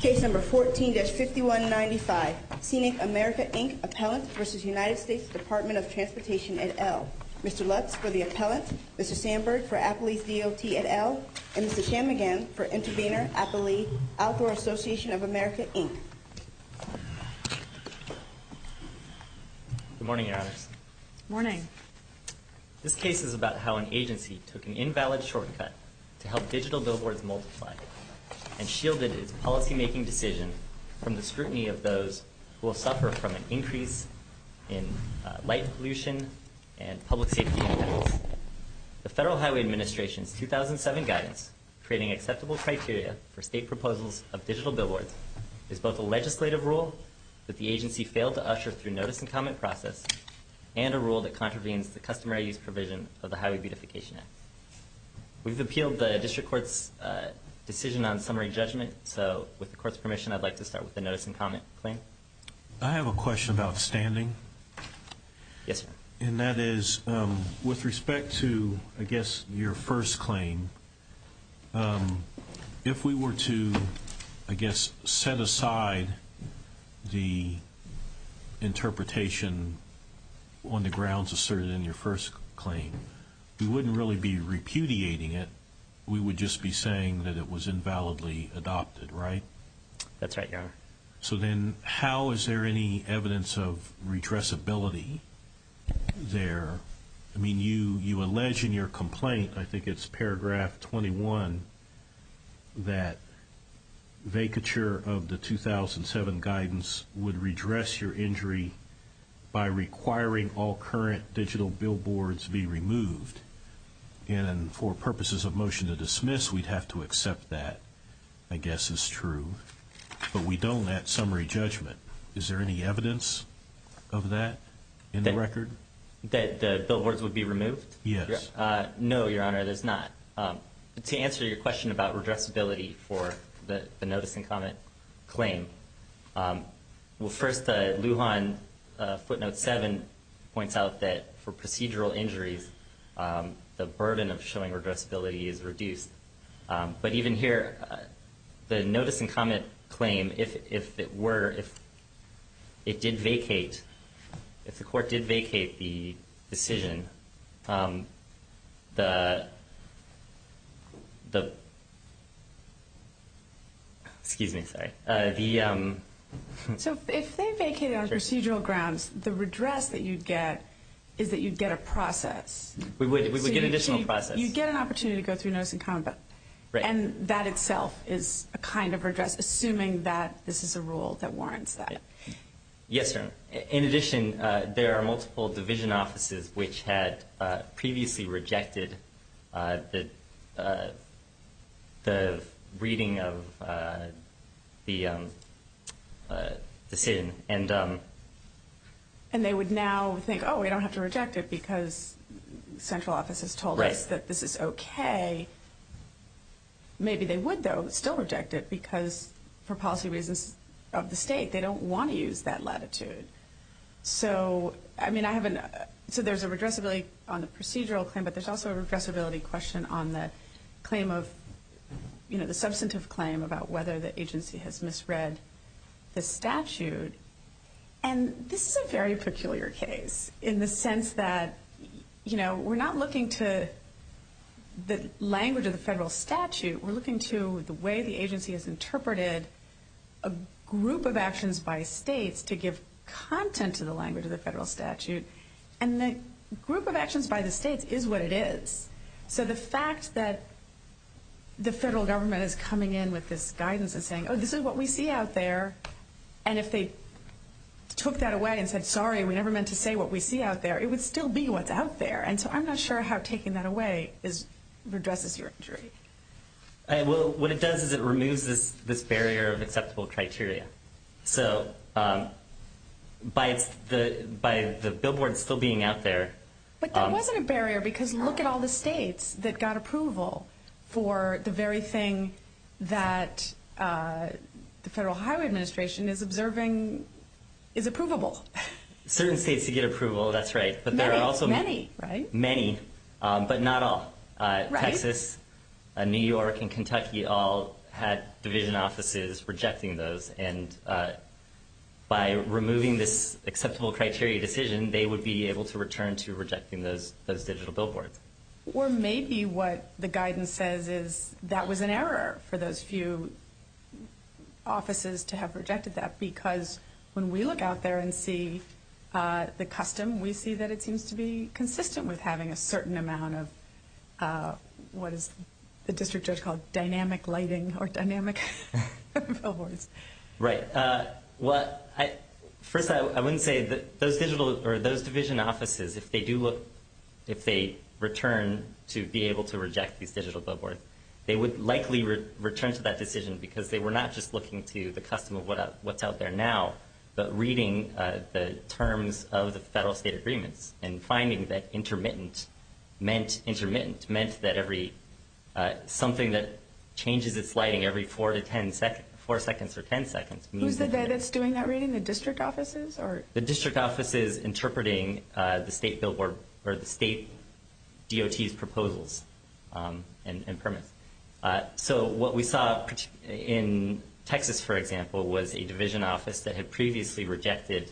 Case number 14-5195, Scenic America, Inc. Appellant v. United States Department of Transportation, et al. Mr. Lutz for the Appellant, Mr. Sandberg for Appley's DOT, et al. And Mr. Chamigan for Intervenor Appley Outdoor Association of America, Inc. Good morning, Your Honors. Good morning. This case is about how an agency took an invalid shortcut to help digital billboards multiply and shielded its policymaking decision from the scrutiny of those who will suffer from an increase in light pollution and public safety impacts. The Federal Highway Administration's 2007 guidance creating acceptable criteria for state proposals of digital billboards is both a legislative rule that the agency failed to usher through notice and comment process and a rule that contravenes the customary use provision of the Highway Beautification Act. We've appealed the District Court's decision on summary judgment, so with the Court's permission, I'd like to start with the notice and comment claim. I have a question about standing. Yes, sir. And that is with respect to, I guess, your first claim, if we were to, I guess, set aside the interpretation on the grounds asserted in your first claim, we wouldn't really be repudiating it. We would just be saying that it was invalidly adopted, right? That's right, Your Honor. So then how is there any evidence of redressability there? I mean, you allege in your complaint, I think it's paragraph 21, that vacature of the 2007 guidance would redress your injury by requiring all current digital billboards be removed. And for purposes of motion to dismiss, we'd have to accept that, I guess is true. But we don't at summary judgment. Is there any evidence of that in the record? That the billboards would be removed? Yes. No, Your Honor, there's not. To answer your question about redressability for the notice and comment claim, well, first, the Lujan footnote 7 points out that for procedural injuries, the burden of showing redressability is reduced. But even here, the notice and comment claim, if it were, if it did vacate, if the court did vacate the decision, the... Excuse me, sorry. So if they vacated on procedural grounds, the redress that you'd get is that you'd get a process. We would. We would get an additional process. You'd get an opportunity to go through notice and comment. Right. And that itself is a kind of redress, assuming that this is a rule that warrants that. Yes, Your Honor. In addition, there are multiple division offices which had previously rejected the reading of the decision. And they would now think, oh, we don't have to reject it because central office has told us that this is okay. Maybe they would, though, still reject it because for policy reasons of the state, they don't want to use that latitude. So, I mean, I haven't, so there's a redressability on the procedural claim, but there's also a redressability question on the claim of, you know, the substantive claim about whether the agency has misread the statute. And this is a very peculiar case in the sense that, you know, we're not looking to the language of the federal statute. We're looking to the way the agency has interpreted a group of actions by states to give content to the language of the federal statute. And the group of actions by the states is what it is. So the fact that the federal government is coming in with this guidance and saying, oh, this is what we see out there, and if they took that away and said, sorry, we never meant to say what we see out there, it would still be what's out there. And so I'm not sure how taking that away redresses your injury. Well, what it does is it removes this barrier of acceptable criteria. So by the billboard still being out there. But that wasn't a barrier, because look at all the states that got approval for the very thing that the Federal Highway Administration is observing is approvable. Certain states did get approval, that's right. Many, right? Many, but not all. Texas, New York, and Kentucky all had division offices rejecting those. And by removing this acceptable criteria decision, they would be able to return to rejecting those digital billboards. Or maybe what the guidance says is that was an error for those few offices to have rejected that. Because when we look out there and see the custom, we see that it seems to be consistent with having a certain amount of what is the district judge called dynamic lighting or dynamic billboards. Right. First, I wouldn't say that those division offices, if they return to be able to reject these digital billboards, they would likely return to that decision because they were not just looking to the custom of what's out there now, but reading the terms of the federal state agreements and finding that intermittent meant intermittent, meant that something that changes its lighting every four seconds or ten seconds. Who's the guy that's doing that reading, the district offices? The district offices interpreting the state billboard or the state DOT's proposals and permits. So what we saw in Texas, for example, was a division office that had previously rejected,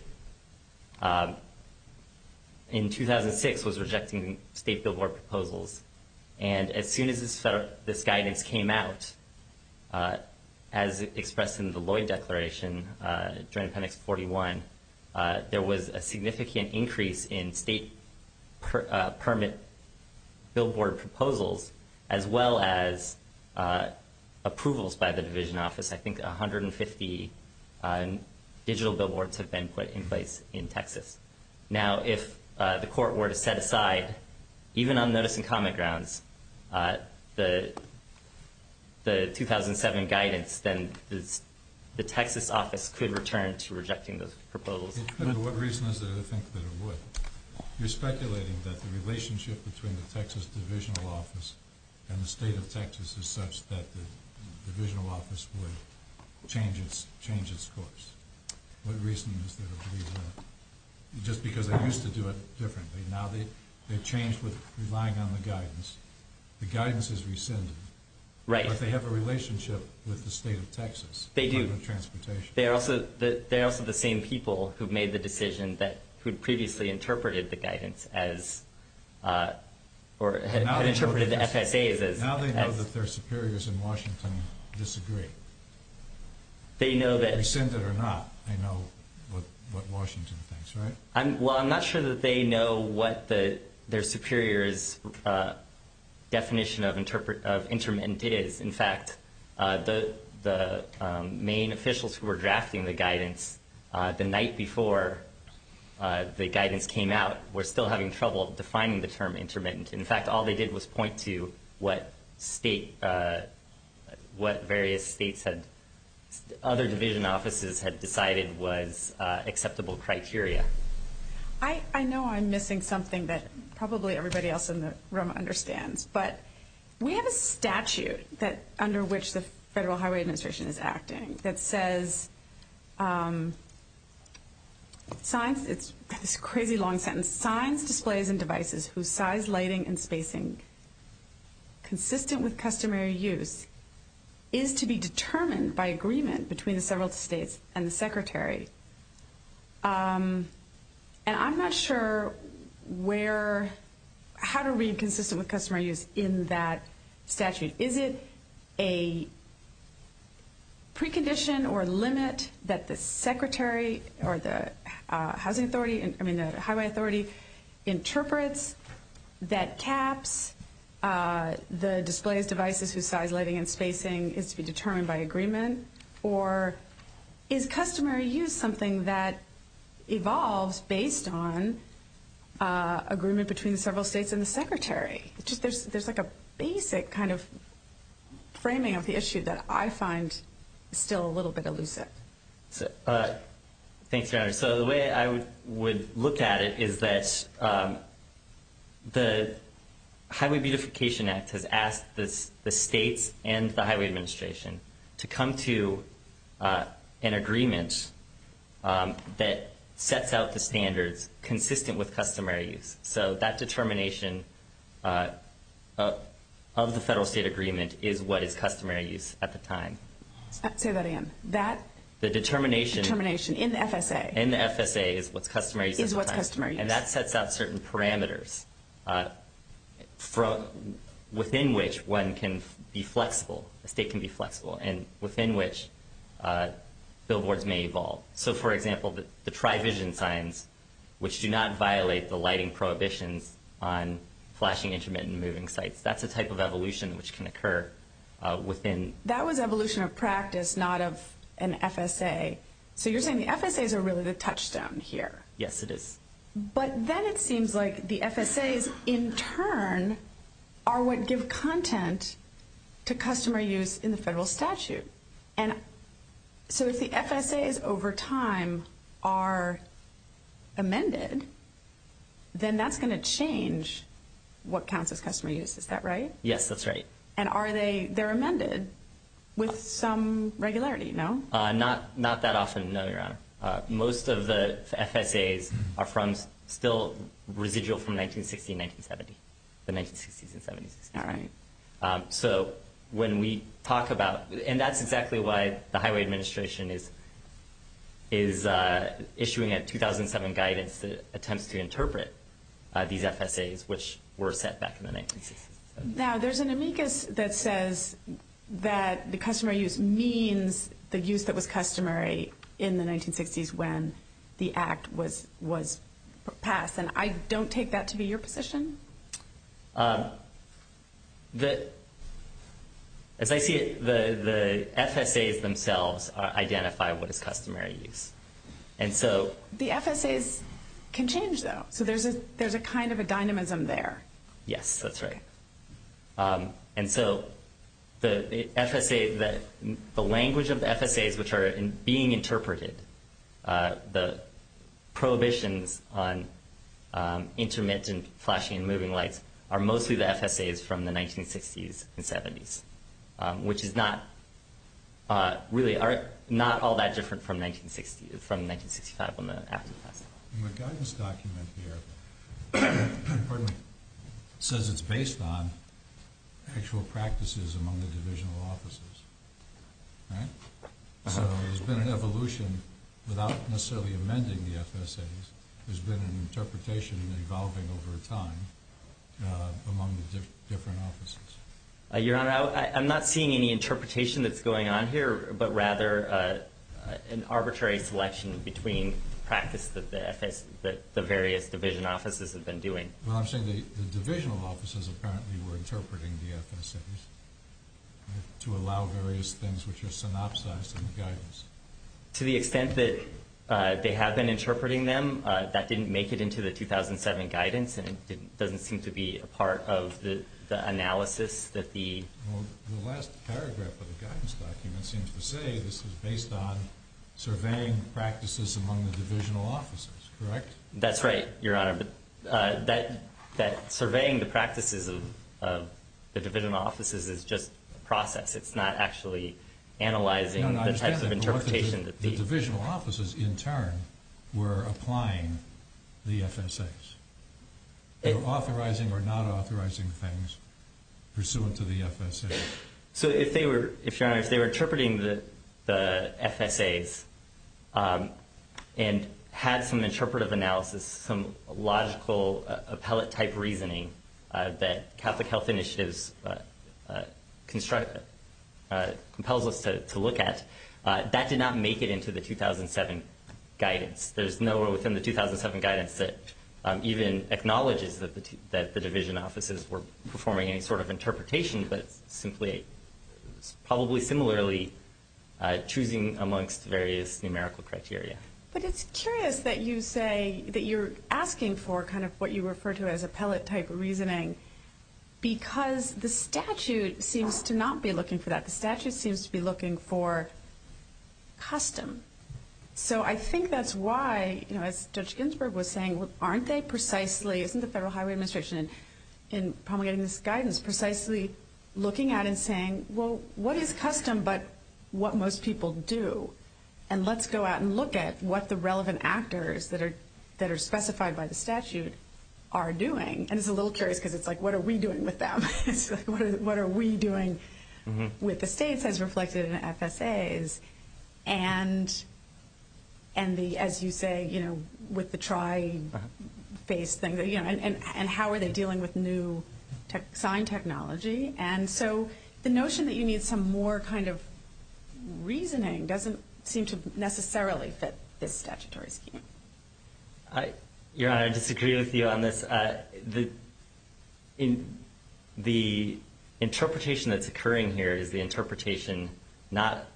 in 2006, was rejecting state billboard proposals. And as soon as this guidance came out, as expressed in the Lloyd Declaration during Appendix 41, there was a significant increase in state permit billboard proposals as well as approvals by the division office. I think 150 digital billboards have been put in place in Texas. Now, if the court were to set aside, even on notice and comment grounds, the 2007 guidance, then the Texas office could return to rejecting those proposals. But what reason is there to think that it would? You're speculating that the relationship between the Texas divisional office and the state of Texas is such that the divisional office would change its course. What reason is there to believe that? Just because they used to do it differently. Now they've changed with relying on the guidance. The guidance is rescinded. Right. But they have a relationship with the state of Texas. They do. The Department of Transportation. They're also the same people who made the decision that had previously interpreted the guidance as, or had interpreted the FSA as. Now they know that their superiors in Washington disagree. They know that. Whether they rescind it or not, they know what Washington thinks, right? Well, I'm not sure that they know what their superiors' definition of intermittent is. In fact, the main officials who were drafting the guidance the night before the guidance came out were still having trouble defining the term intermittent. In fact, all they did was point to what various states had, other division offices had decided was acceptable criteria. I know I'm missing something that probably everybody else in the room understands. But we have a statute under which the Federal Highway Administration is acting that says, it's a crazy long sentence, signs, displays, and devices whose size, lighting, and spacing consistent with customary use is to be determined by agreement between the several states and the Secretary. And I'm not sure where, how to read consistent with customary use in that statute. Is it a precondition or limit that the Secretary or the Housing Authority, I mean the Highway Authority, interprets that caps the displays, devices whose size, lighting, and spacing is to be determined by agreement? Or is customary use something that evolves based on agreement between several states and the Secretary? There's like a basic kind of framing of the issue that I find still a little bit elusive. Thanks, Your Honor. So the way I would look at it is that the Highway Beautification Act has asked the states and the Highway Administration to come to an agreement that sets out the standards consistent with customary use. So that determination of the federal-state agreement is what is customary use at the time. Say that again. The determination in the FSA is what's customary use at the time. And that sets out certain parameters within which one can be flexible, the state can be flexible, and within which billboards may evolve. So, for example, the tri-vision signs, which do not violate the lighting prohibitions on flashing, intermittent, and moving sites. That's a type of evolution which can occur within... That was evolution of practice, not of an FSA. So you're saying the FSAs are really the touchstone here. Yes, it is. But then it seems like the FSAs, in turn, are what give content to customary use in the federal statute. So if the FSAs over time are amended, then that's going to change what counts as customary use, is that right? Yes, that's right. And are they amended with some regularity, no? Not that often, no, Your Honor. Most of the FSAs are still residual from 1960 and 1970, the 1960s and 70s. All right. So when we talk about... And that's exactly why the Highway Administration is issuing a 2007 guidance that attempts to interpret these FSAs, which were set back in the 1960s. Now, there's an amicus that says that the customary use means the use that was customary in the 1960s when the Act was passed. And I don't take that to be your position. As I see it, the FSAs themselves identify what is customary use. And so... The FSAs can change, though, so there's a kind of a dynamism there. Yes, that's right. And so the language of the FSAs which are being interpreted, the prohibitions on intermittent flashing and moving lights, are mostly the FSAs from the 1960s and 70s, which really are not all that different from 1965 when the Act was passed. The guidance document here says it's based on actual practices among the divisional offices, right? So there's been an evolution without necessarily amending the FSAs. There's been an interpretation evolving over time among the different offices. Your Honor, I'm not seeing any interpretation that's going on here, but rather an arbitrary selection between practice that the various division offices have been doing. Well, I'm saying the divisional offices apparently were interpreting the FSAs to allow various things which are synopsized in the guidance. To the extent that they have been interpreting them, that didn't make it into the 2007 guidance, and it doesn't seem to be a part of the analysis that the... Well, the last paragraph of the guidance document seems to say this is based on surveying practices among the divisional offices, correct? That's right, Your Honor. But that surveying the practices of the divisional offices is just a process. It's not actually analyzing the types of interpretation that the... I understand that, but what if the divisional offices in turn were applying the FSAs? They were authorizing or not authorizing things pursuant to the FSAs. So if Your Honor, if they were interpreting the FSAs and had some interpretive analysis, some logical appellate-type reasoning that Catholic Health Initiatives compels us to look at, that did not make it into the 2007 guidance. There's nowhere within the 2007 guidance that even acknowledges that the division offices were performing any sort of interpretation, but simply probably similarly choosing amongst various numerical criteria. But it's curious that you say that you're asking for kind of what you refer to as appellate-type reasoning, because the statute seems to not be looking for that. The statute seems to be looking for custom. So I think that's why, as Judge Ginsburg was saying, aren't they precisely... Isn't the Federal Highway Administration in promulgating this guidance precisely looking at it and saying, well, what is custom but what most people do? And let's go out and look at what the relevant actors that are specified by the statute are doing. And it's a little curious because it's like, what are we doing with them? It's like, what are we doing with the states as reflected in the FSAs? And the, as you say, with the tri-phase thing, and how are they dealing with new sign technology? And so the notion that you need some more kind of reasoning doesn't seem to necessarily fit this statutory scheme. Your Honor, I disagree with you on this. The interpretation that's occurring here is the interpretation not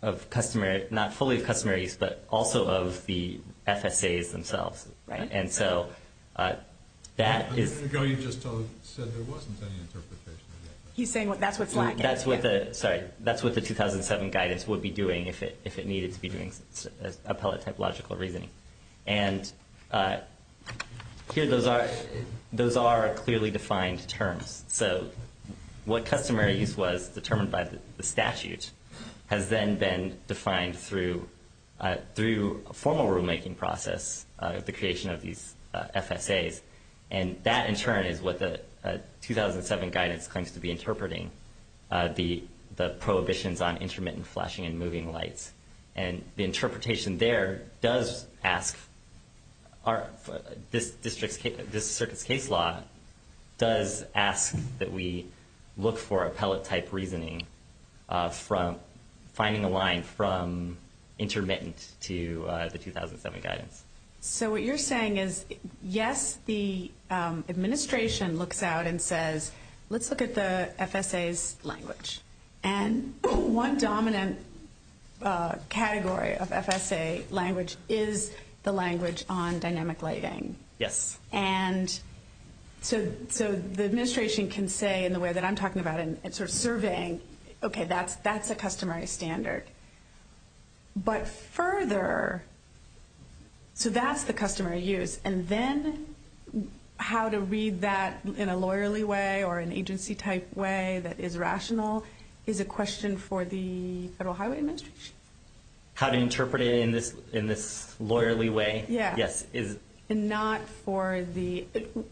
fully of customary use, but also of the FSAs themselves. Right. And so that is... A minute ago you just said there wasn't any interpretation of that. He's saying that's what FLAG is. Sorry, that's what the 2007 guidance would be doing if it needed to be doing appellate-type logical reasoning. And here those are clearly defined terms. So what customary use was determined by the statute has then been defined through a formal rulemaking process, the creation of these FSAs. And that, in turn, is what the 2007 guidance claims to be interpreting, the prohibitions on intermittent flashing and moving lights. And the interpretation there does ask this circuit's case law does ask that we look for appellate-type reasoning from finding a line from intermittent to the 2007 guidance. So what you're saying is, yes, the administration looks out and says, let's look at the FSAs' language. And one dominant category of FSA language is the language on dynamic lighting. Yes. And so the administration can say in the way that I'm talking about in sort of surveying, okay, that's a customary standard. But further, so that's the customary use. And then how to read that in a lawyerly way or an agency-type way that is rational is a question for the Federal Highway Administration. How to interpret it in this lawyerly way? Yes. And not for the ‑‑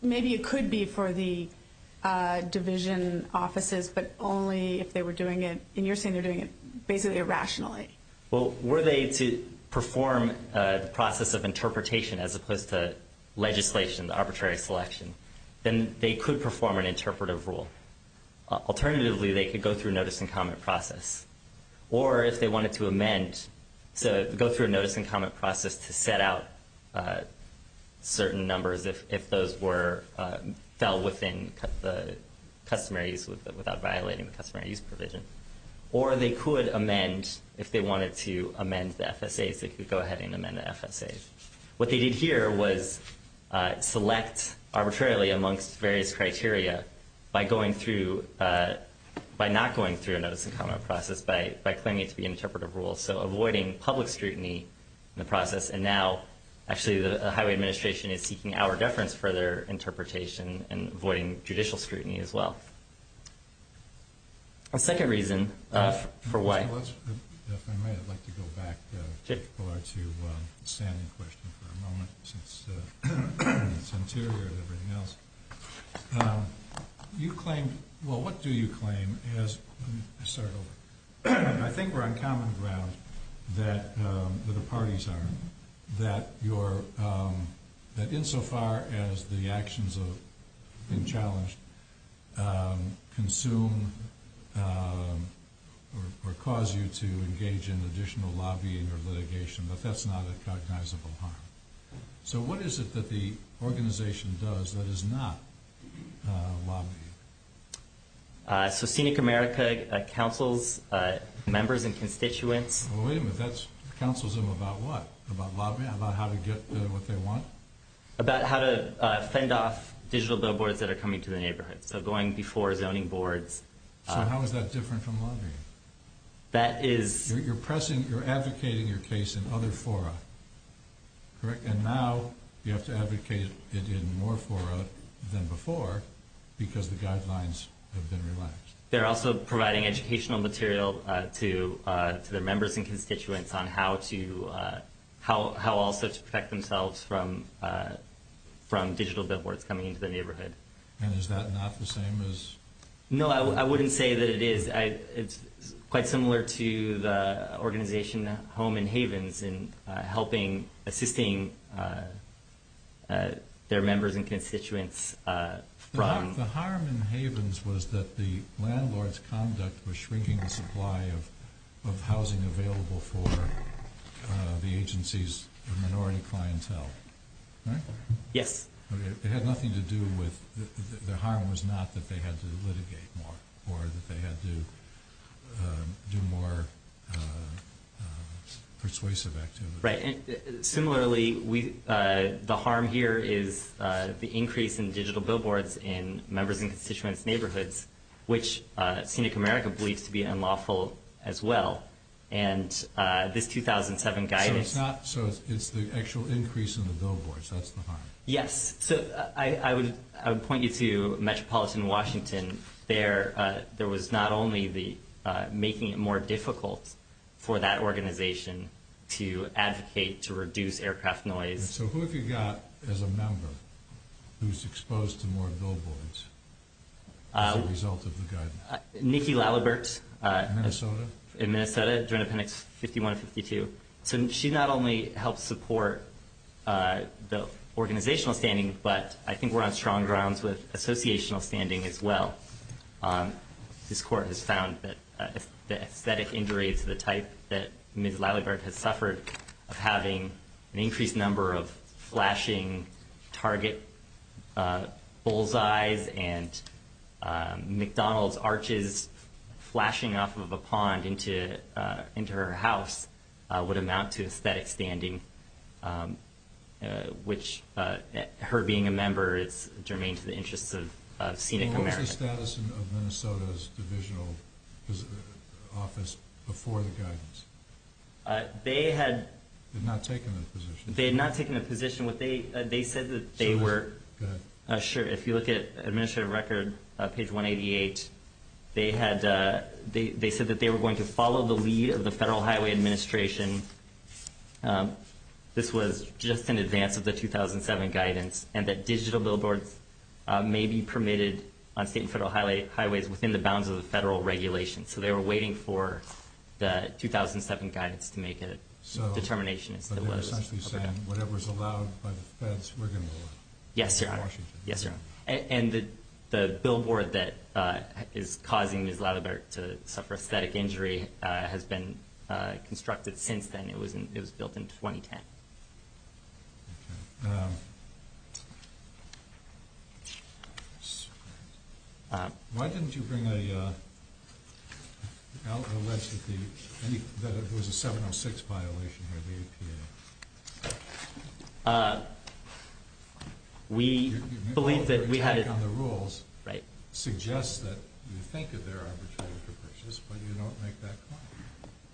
maybe it could be for the division offices, but only if they were doing it, and you're saying they're doing it basically irrationally. Well, were they to perform the process of interpretation as opposed to legislation, arbitrary selection, then they could perform an interpretive rule. Alternatively, they could go through a notice and comment process. Or if they wanted to amend, go through a notice and comment process to set out certain numbers if those fell within the customary use without violating the customary use provision. Or they could amend, if they wanted to amend the FSAs, they could go ahead and amend the FSAs. What they did here was select arbitrarily amongst various criteria by going through, by not going through a notice and comment process, by claiming it to be an interpretive rule. So avoiding public scrutiny in the process. And now, actually, the Highway Administration is seeking our deference for their interpretation and avoiding judicial scrutiny as well. A second reason for why. If I may, I'd like to go back to Sam's question for a moment, since it's interior to everything else. You claim, well, what do you claim as, I think we're on common ground that the parties are, that insofar as the actions have been challenged consume or cause you to engage in additional lobbying or litigation. But that's not a cognizable harm. So what is it that the organization does that is not lobbying? So Scenic America counsels members and constituents. Well, wait a minute. That's, counsels them about what? About lobbying? About how to get what they want? About how to fend off digital billboards that are coming to the neighborhood. So going before zoning boards. So how is that different from lobbying? That is... You're pressing, you're advocating your case in other fora. Correct? And now you have to advocate it in more fora than before because the guidelines have been relaxed. They're also providing educational material to their members and constituents on how to, how also to protect themselves from digital billboards coming into the neighborhood. And is that not the same as... No, I wouldn't say that it is. It's quite similar to the organization Home and Havens in helping, assisting their members and constituents from... The harm in Havens was that the landlord's conduct was shrinking the supply of housing available for the agency's minority clientele. Right? Yes. It had nothing to do with, the harm was not that they had to litigate more or that they had to do more persuasive activities. Right. Similarly, the harm here is the increase in digital billboards in members' and constituents' neighborhoods, which Scenic America believes to be unlawful as well. And this 2007 guidance... So it's the actual increase in the billboards, that's the harm? Yes. So I would point you to Metropolitan Washington. There was not only the making it more difficult for that organization to advocate to reduce aircraft noise... So who have you got as a member who's exposed to more billboards as a result of the guidance? Nikki Lalibert. In Minnesota? In Minnesota, Joint Appendix 51 and 52. So she not only helped support the organizational standing, but I think we're on strong grounds with associational standing as well. This court has found that the aesthetic injury to the type that Ms. Lalibert has suffered of having an increased number of flashing target bullseyes and McDonald's arches flashing off of a pond into her house would amount to aesthetic standing, which her being a member is germane to the interests of Scenic America. What was the status of Minnesota's divisional office before the guidance? They had... They had not taken a position. They had not taken a position. They said that they were... Go ahead. Sure. If you look at Administrative Record, page 188, they said that they were going to follow the lead of the Federal Highway Administration. This was just in advance of the 2007 guidance, and that digital billboards may be permitted on state and federal highways within the bounds of the federal regulations. So they were waiting for the 2007 guidance to make a determination. So they're essentially saying whatever's allowed by the feds, we're going to allow it? Yes, Your Honor. In Washington? Yes, Your Honor. And the billboard that is causing Ms. Lalibert to suffer aesthetic injury has been constructed since then. It was built in 2010. Okay. Why didn't you bring a list that it was a 706 violation of APA? We believe that we had... Your attack on the rules... Right. ...suggests that you think that they're arbitrary perpetrators, but you don't make that claim.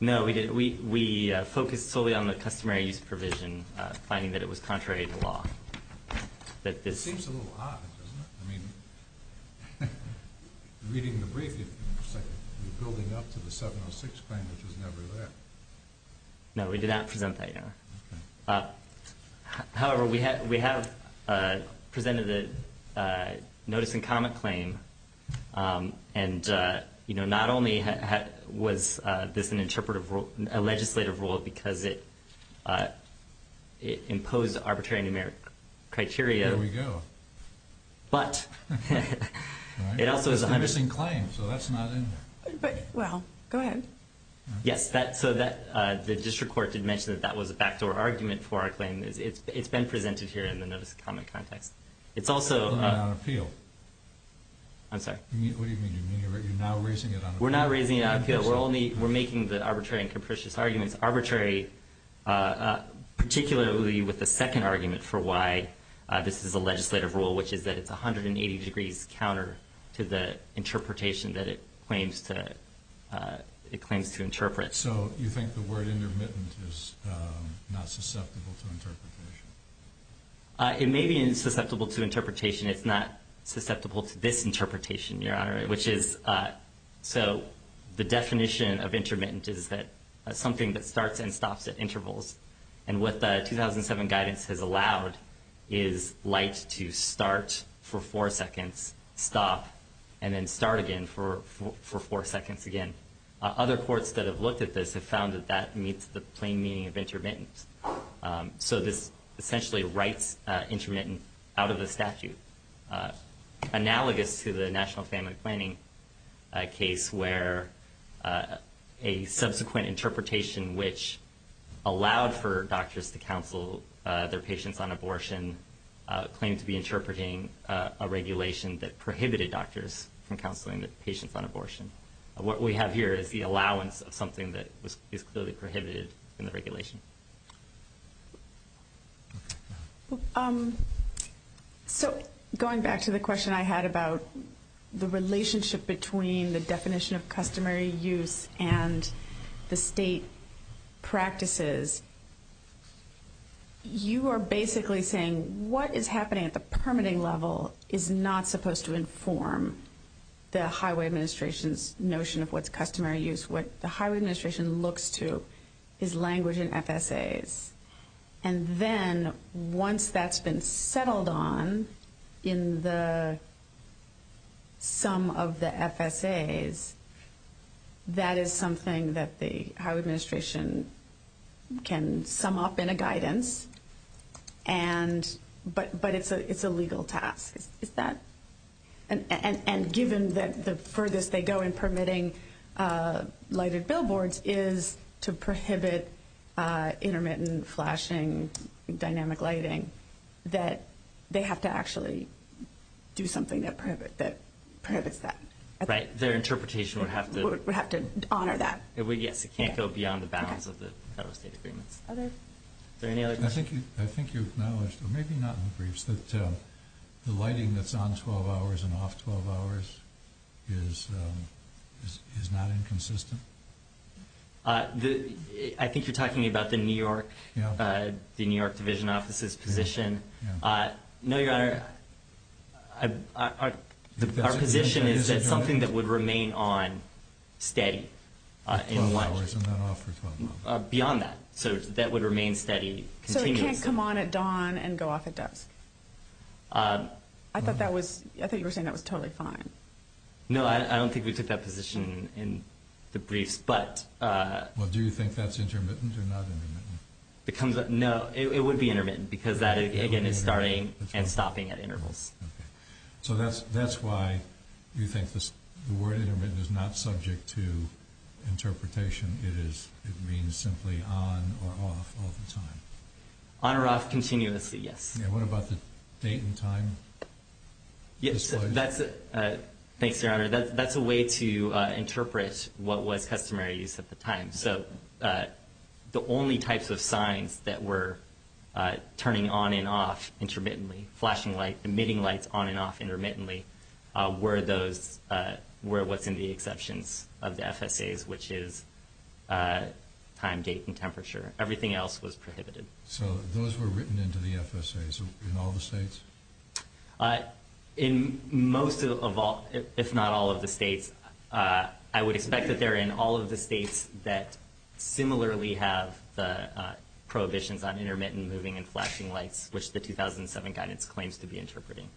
No, we didn't. We focused solely on the customary use provision, finding that it was contrary to law. It seems a little odd, doesn't it? I mean, reading the brief, it looks like you're building up to the 706 claim, which was never there. No, we did not present that, Your Honor. Okay. However, we have presented a notice-in-common claim, and, you know, not only was this an interpretive rule, a legislative rule because it imposed arbitrary numeric criteria... There we go. ...but it also is a hundred... It's the missing claim, so that's not in there. Well, go ahead. Yes, so the district court did mention that that was a backdoor argument for our claim. It's been presented here in the notice-in-common context. It's also... On appeal. I'm sorry? What do you mean? You're now raising it on appeal? We're not raising it on appeal. We're making the arbitrary and capricious arguments arbitrary, particularly with the second argument for why this is a legislative rule, which is that it's 180 degrees counter to the interpretation that it claims to interpret. So you think the word intermittent is not susceptible to interpretation? It may be susceptible to interpretation. It's not susceptible to this interpretation, Your Honor, which is... So the definition of intermittent is that something that starts and stops at intervals, and what the 2007 guidance has allowed is light to start for four seconds, stop, and then start again for four seconds again. Other courts that have looked at this have found that that meets the plain meaning of intermittent. So this essentially writes intermittent out of the statute, analogous to the National Family Planning case where a subsequent interpretation, which allowed for doctors to counsel their patients on abortion, claimed to be interpreting a regulation that prohibited doctors from counseling patients on abortion. What we have here is the allowance of something that is clearly prohibited in the regulation. So going back to the question I had about the relationship between the definition of customary use and the state practices, you are basically saying what is happening at the permitting level is not supposed to inform the highway administration's notion of what's customary use. What the highway administration looks to is language and FSAs. And then once that's been settled on in the sum of the FSAs, that is something that the highway administration can sum up in a guidance, but it's a legal task. And given that the furthest they go in permitting lighted billboards is to prohibit intermittent flashing, dynamic lighting, that they have to actually do something that prohibits that. Their interpretation would have to honor that. Yes, it can't go beyond the bounds of the federal state agreements. Are there any other questions? I think you've acknowledged, or maybe not in the briefs, that the lighting that's on 12 hours and off 12 hours is not inconsistent. I think you're talking about the New York Division Office's position. No, Your Honor, our position is that something that would remain on steady in one. Beyond that, so that would remain steady continuously. So it can't come on at dawn and go off at dusk? I thought you were saying that was totally fine. No, I don't think we took that position in the briefs. Well, do you think that's intermittent or not intermittent? No, it would be intermittent because that, again, is starting and stopping at intervals. So that's why you think the word intermittent is not subject to interpretation. It means simply on or off all the time. On or off continuously, yes. And what about the date and time? Thanks, Your Honor. That's a way to interpret what was customary use at the time. So the only types of signs that were turning on and off intermittently, flashing lights, emitting lights on and off intermittently, were what's in the exceptions of the FSAs, which is time, date, and temperature. Everything else was prohibited. So those were written into the FSAs in all the states? In most of all, if not all of the states. I would expect that they're in all of the states that similarly have the prohibitions on intermittent moving and flashing lights, which the 2007 guidance claims to be interpreting.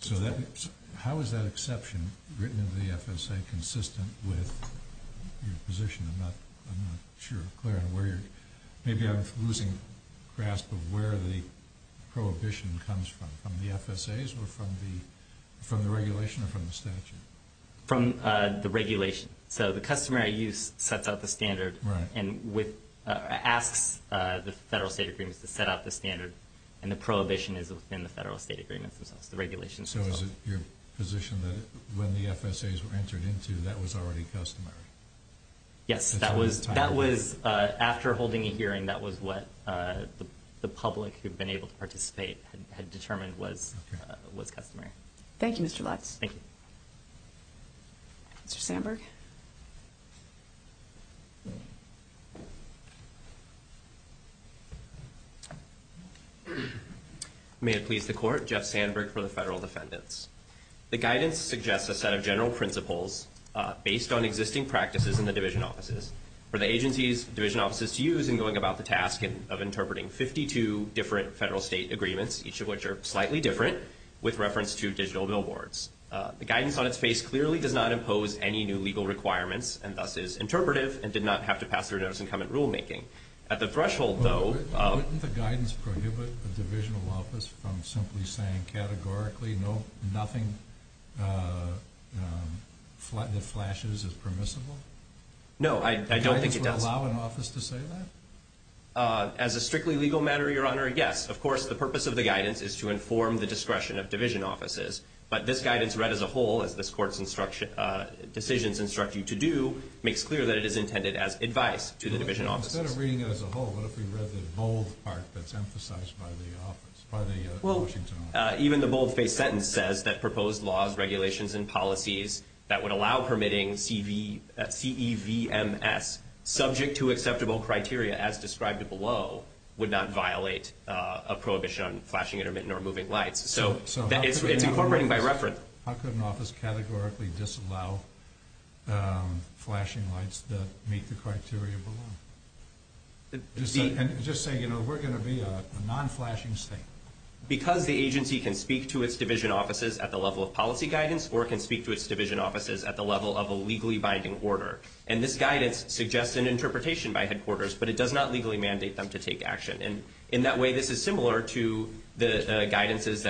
So how is that exception written in the FSA consistent with your position? I'm not sure. Maybe I'm losing grasp of where the prohibition comes from. From the FSAs or from the regulation or from the statute? From the regulation. So the customary use sets out the standard and asks the federal state agreements to set out the standard, and the prohibition is within the federal state agreements themselves, the regulations themselves. So is it your position that when the FSAs were entered into, that was already customary? Yes, that was after holding a hearing. That was what the public who had been able to participate had determined was customary. Thank you, Mr. Lutz. Thank you. Mr. Sandberg. May it please the Court, Jeff Sandberg for the federal defendants. The guidance suggests a set of general principles based on existing practices in the division offices for the agency's division offices to use in going about the task of interpreting 52 different federal state agreements, each of which are slightly different, with reference to digital billboards. The guidance on its face clearly does not impose any new legal requirements and thus is interpretive and did not have to pass through notice and comment rulemaking. Wouldn't the guidance prohibit a divisional office from simply saying categorically nothing that flashes is permissible? No, I don't think it does. Would the guidance allow an office to say that? As a strictly legal matter, Your Honor, yes. Of course, the purpose of the guidance is to inform the discretion of division offices, but this guidance read as a whole, as this Court's decisions instruct you to do, makes clear that it is intended as advice to the division offices. Instead of reading it as a whole, what if we read the bold part that's emphasized by the Washington office? Even the bold-faced sentence says that proposed laws, regulations, and policies that would allow permitting CEVMS subject to acceptable criteria as described below would not violate a prohibition on flashing intermittent or moving lights. So it's incorporating by reference. How could an office categorically disallow flashing lights that meet the criteria below? Just say, you know, we're going to be a non-flashing state. Because the agency can speak to its division offices at the level of policy guidance or can speak to its division offices at the level of a legally binding order. And this guidance suggests an interpretation by headquarters, but it does not legally mandate them to take action. And in that way, this is similar to the guidances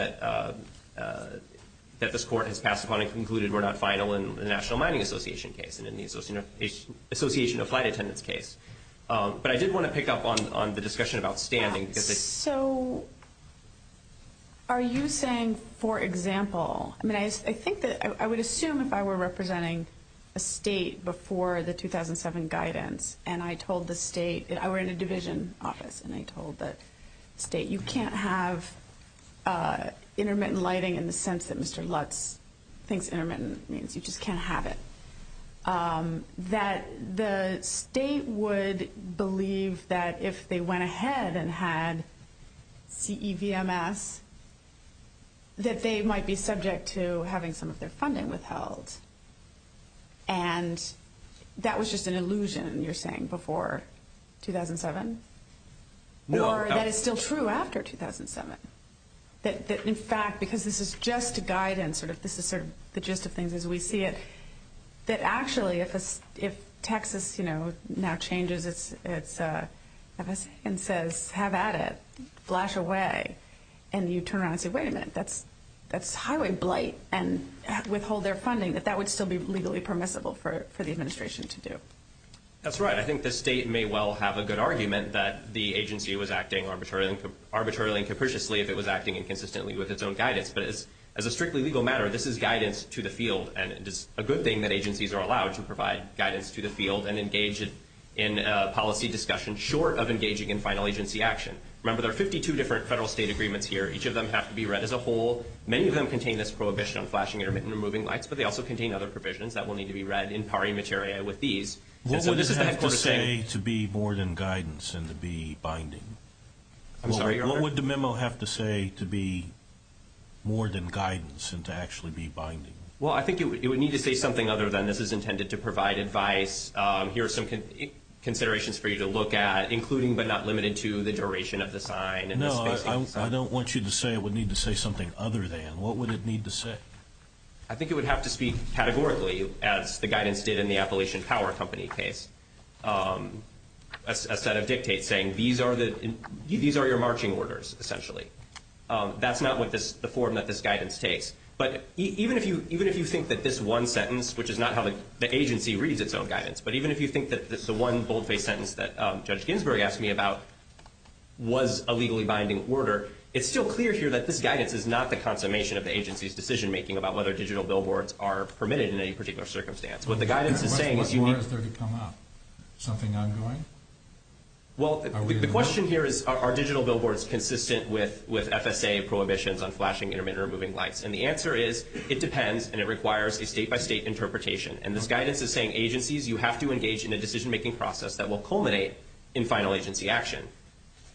that this Court has passed upon and concluded were not final in the National Mining Association case and in the Association of Flight Attendants case. But I did want to pick up on the discussion of outstanding. So are you saying, for example, I mean, I think that I would assume if I were representing a state before the 2007 guidance and I told the state, I were in a division office, and I told the state you can't have intermittent lighting in the sense that Mr. Lutz thinks intermittent means you just can't have it, that the state would believe that if they went ahead and had CEVMS, that they might be subject to having some of their funding withheld. And that was just an illusion, you're saying, before 2007? Or that is still true after 2007? That in fact, because this is just a guidance, this is sort of the gist of things as we see it, that actually if Texas now changes its FSA and says have at it, flash away, and you turn around and say, wait a minute, that's highway blight, and withhold their funding, that that would still be legally permissible for the administration to do? That's right. I think the state may well have a good argument that the agency was acting arbitrarily and capriciously if it was acting inconsistently with its own guidance. But as a strictly legal matter, this is guidance to the field, and it is a good thing that agencies are allowed to provide guidance to the field and engage in policy discussion short of engaging in final agency action. Remember, there are 52 different federal state agreements here. Each of them have to be read as a whole. Many of them contain this prohibition on flashing, intermittent, and removing lights, but they also contain other provisions that will need to be read in pari materia with these. What would it have to say to be more than guidance and to be binding? I'm sorry, Your Honor? What would the memo have to say to be more than guidance and to actually be binding? Well, I think it would need to say something other than this is intended to provide advice. Here are some considerations for you to look at, including but not limited to the duration of the sign and the spacing. No, I don't want you to say it would need to say something other than. What would it need to say? I think it would have to speak categorically, as the guidance did in the Appalachian Power Company case, a set of dictates saying these are your marching orders, essentially. That's not the form that this guidance takes. But even if you think that this one sentence, which is not how the agency reads its own guidance, but even if you think that the one boldface sentence that Judge Ginsburg asked me about was a legally binding order, it's still clear here that this guidance is not the consummation of the agency's decision-making about whether digital billboards are permitted in any particular circumstance. What the guidance is saying is you need to... What more is there to come up? Something ongoing? Well, the question here is are digital billboards consistent with FSA prohibitions on flashing, intermittent, or moving lights? And the answer is it depends, and it requires a state-by-state interpretation. And this guidance is saying agencies, you have to engage in a decision-making process that will culminate in final agency action.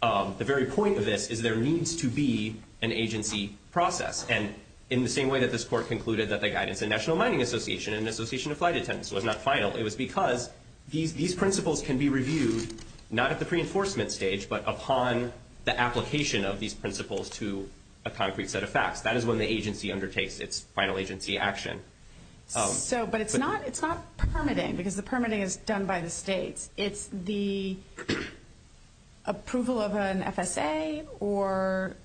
The very point of this is there needs to be an agency process. And in the same way that this Court concluded that the guidance in National Mining Association and the Association of Flight Attendants was not final, it was because these principles can be reviewed not at the pre-enforcement stage, but upon the application of these principles to a concrete set of facts. That is when the agency undertakes its final agency action. But it's not permitting, because the permitting is done by the states. It's the approval of an FSA, or...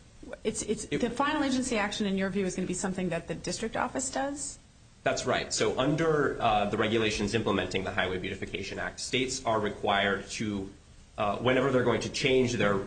The final agency action, in your view, is going to be something that the district office does? That's right. So under the regulations implementing the Highway Beautification Act, states are required to, whenever they're going to change their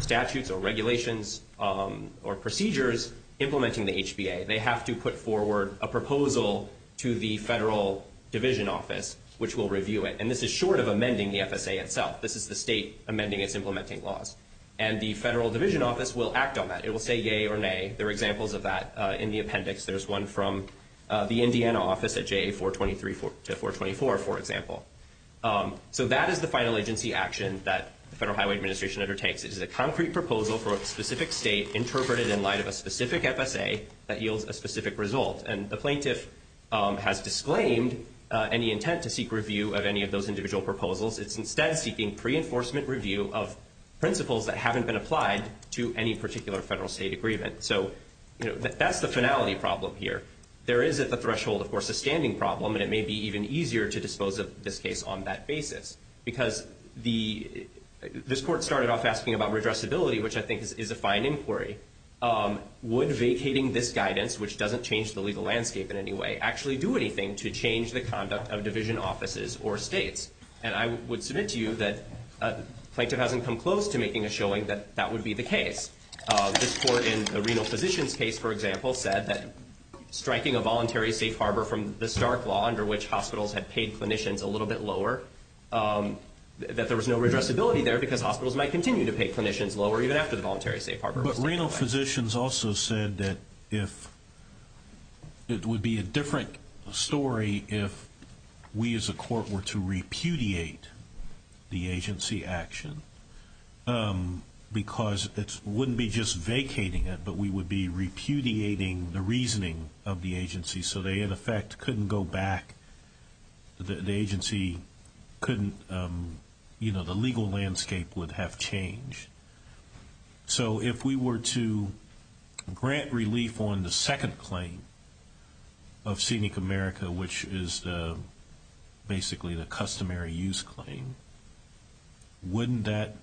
statutes or regulations or procedures implementing the HBA, they have to put forward a proposal to the federal division office, which will review it. And this is short of amending the FSA itself. This is the state amending its implementing laws. And the federal division office will act on that. It will say yea or nay. There are examples of that in the appendix. There's one from the Indiana office at JA 423 to 424, for example. So that is the final agency action that the Federal Highway Administration undertakes. It is a concrete proposal for a specific state interpreted in light of a specific FSA that yields a specific result. And the plaintiff has disclaimed any intent to seek review of any of those individual proposals. It's instead seeking pre-enforcement review of principles that haven't been applied to any particular federal state agreement. So that's the finality problem here. There is at the threshold, of course, a standing problem, and it may be even easier to dispose of this case on that basis. Because this court started off asking about redressability, which I think is a fine inquiry. Would vacating this guidance, which doesn't change the legal landscape in any way, actually do anything to change the conduct of division offices or states? And I would submit to you that the plaintiff hasn't come close to making a showing that that would be the case. This court in the renal physician's case, for example, said that striking a voluntary safe harbor from the Stark Law, under which hospitals had paid clinicians a little bit lower, that there was no redressability there because hospitals might continue to pay clinicians lower even after the voluntary safe harbor was taken away. But renal physicians also said that it would be a different story if we as a court were to repudiate the agency action. Because it wouldn't be just vacating it, but we would be repudiating the reasoning of the agency so they, in effect, couldn't go back. The agency couldn't, you know, the legal landscape would have changed. So if we were to grant relief on the second claim of Scenic America, which is basically the customary use claim, wouldn't that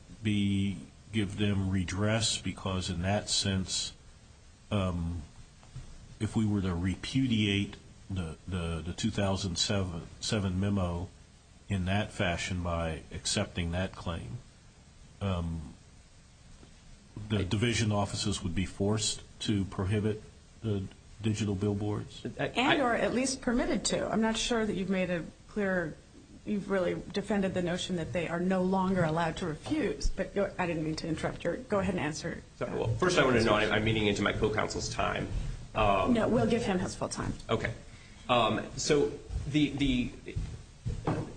give them redress? Because in that sense, if we were to repudiate the 2007 memo in that fashion by accepting that claim, the division offices would be forced to prohibit the digital billboards? And or at least permitted to. I'm not sure that you've made a clear, you've really defended the notion that they are no longer allowed to refuse. But I didn't mean to interrupt. Go ahead and answer. First, I want to know, I'm meeting into my co-counsel's time. No, we'll give him his full time. Okay. So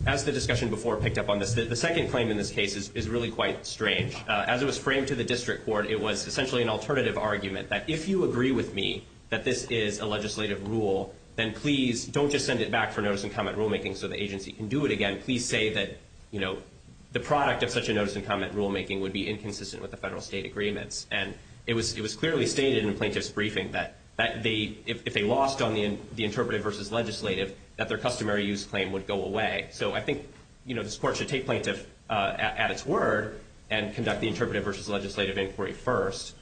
as the discussion before picked up on this, the second claim in this case is really quite strange. As it was framed to the district court, it was essentially an alternative argument that if you agree with me that this is a legislative rule, then please don't just send it back for notice and comment rulemaking so the agency can do it again. Please say that the product of such a notice and comment rulemaking would be inconsistent with the federal state agreements. And it was clearly stated in the plaintiff's briefing that if they lost on the interpretive versus legislative, that their customary use claim would go away. So I think this court should take plaintiff at its word and conduct the interpretive versus legislative inquiry first.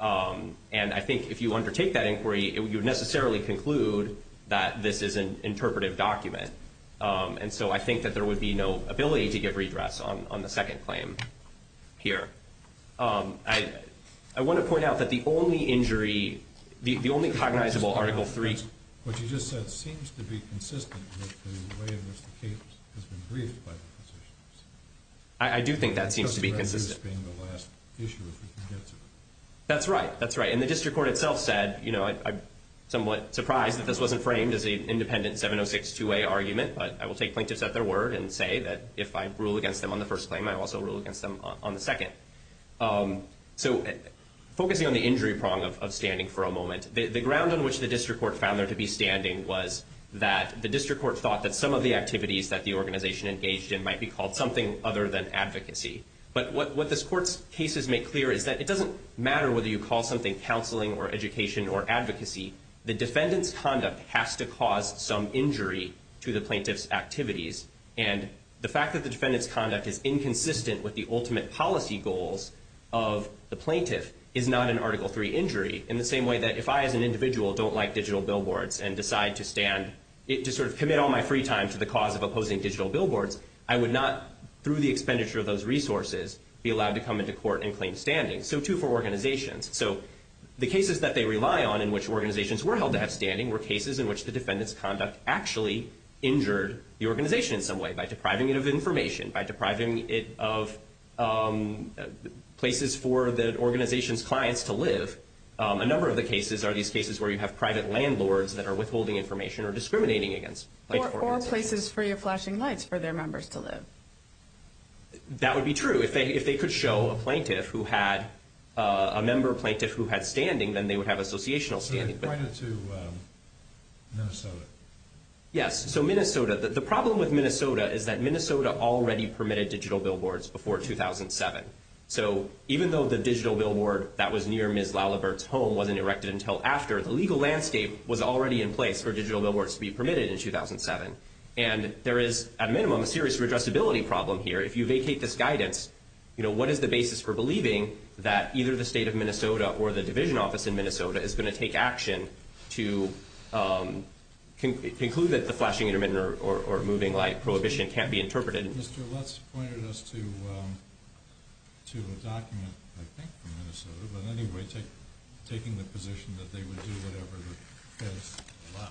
And I think if you undertake that inquiry, you would necessarily conclude that this is an interpretive document. And so I think that there would be no ability to give redress on the second claim here. I want to point out that the only injury, the only cognizable Article III. What you just said seems to be consistent with the way in which the case has been briefed by the physicians. I do think that seems to be consistent. This being the last issue, if we can get to it. That's right. That's right. And the district court itself said, you know, I'm somewhat surprised that this wasn't framed as an independent 706-2A argument. But I will take plaintiffs at their word and say that if I rule against them on the first claim, I also rule against them on the second. So focusing on the injury prong of standing for a moment, the ground on which the district court found there to be standing was that the district court thought that some of the activities that the organization engaged in might be called something other than advocacy. But what this court's cases make clear is that it doesn't matter whether you call something counseling or education or advocacy. The defendant's conduct has to cause some injury to the plaintiff's activities. And the fact that the defendant's conduct is inconsistent with the ultimate policy goals of the plaintiff is not an Article III injury, in the same way that if I as an individual don't like digital billboards and decide to stand, to sort of commit all my free time to the cause of opposing digital billboards, I would not, through the expenditure of those resources, be allowed to come into court and claim standing. So, too, for organizations. So the cases that they rely on in which organizations were held to have standing were cases in which the defendant's conduct actually injured the organization in some way, by depriving it of information, by depriving it of places for the organization's clients to live. A number of the cases are these cases where you have private landlords that are withholding information or discriminating against the organization. They have no places free of flashing lights for their members to live. That would be true. If they could show a plaintiff who had a member, a plaintiff who had standing, then they would have associational standing. Point it to Minnesota. Yes. So Minnesota. The problem with Minnesota is that Minnesota already permitted digital billboards before 2007. So even though the digital billboard that was near Ms. Lalibert's home wasn't erected until after, the legal landscape was already in place for digital billboards to be permitted in 2007. And there is, at a minimum, a serious redressability problem here. If you vacate this guidance, you know, what is the basis for believing that either the state of Minnesota or the division office in Minnesota is going to take action to conclude that the flashing intermittent or moving light prohibition can't be interpreted? Mr. Lutz pointed us to a document, I think, from Minnesota, but anyway, taking the position that they would do whatever the feds allow.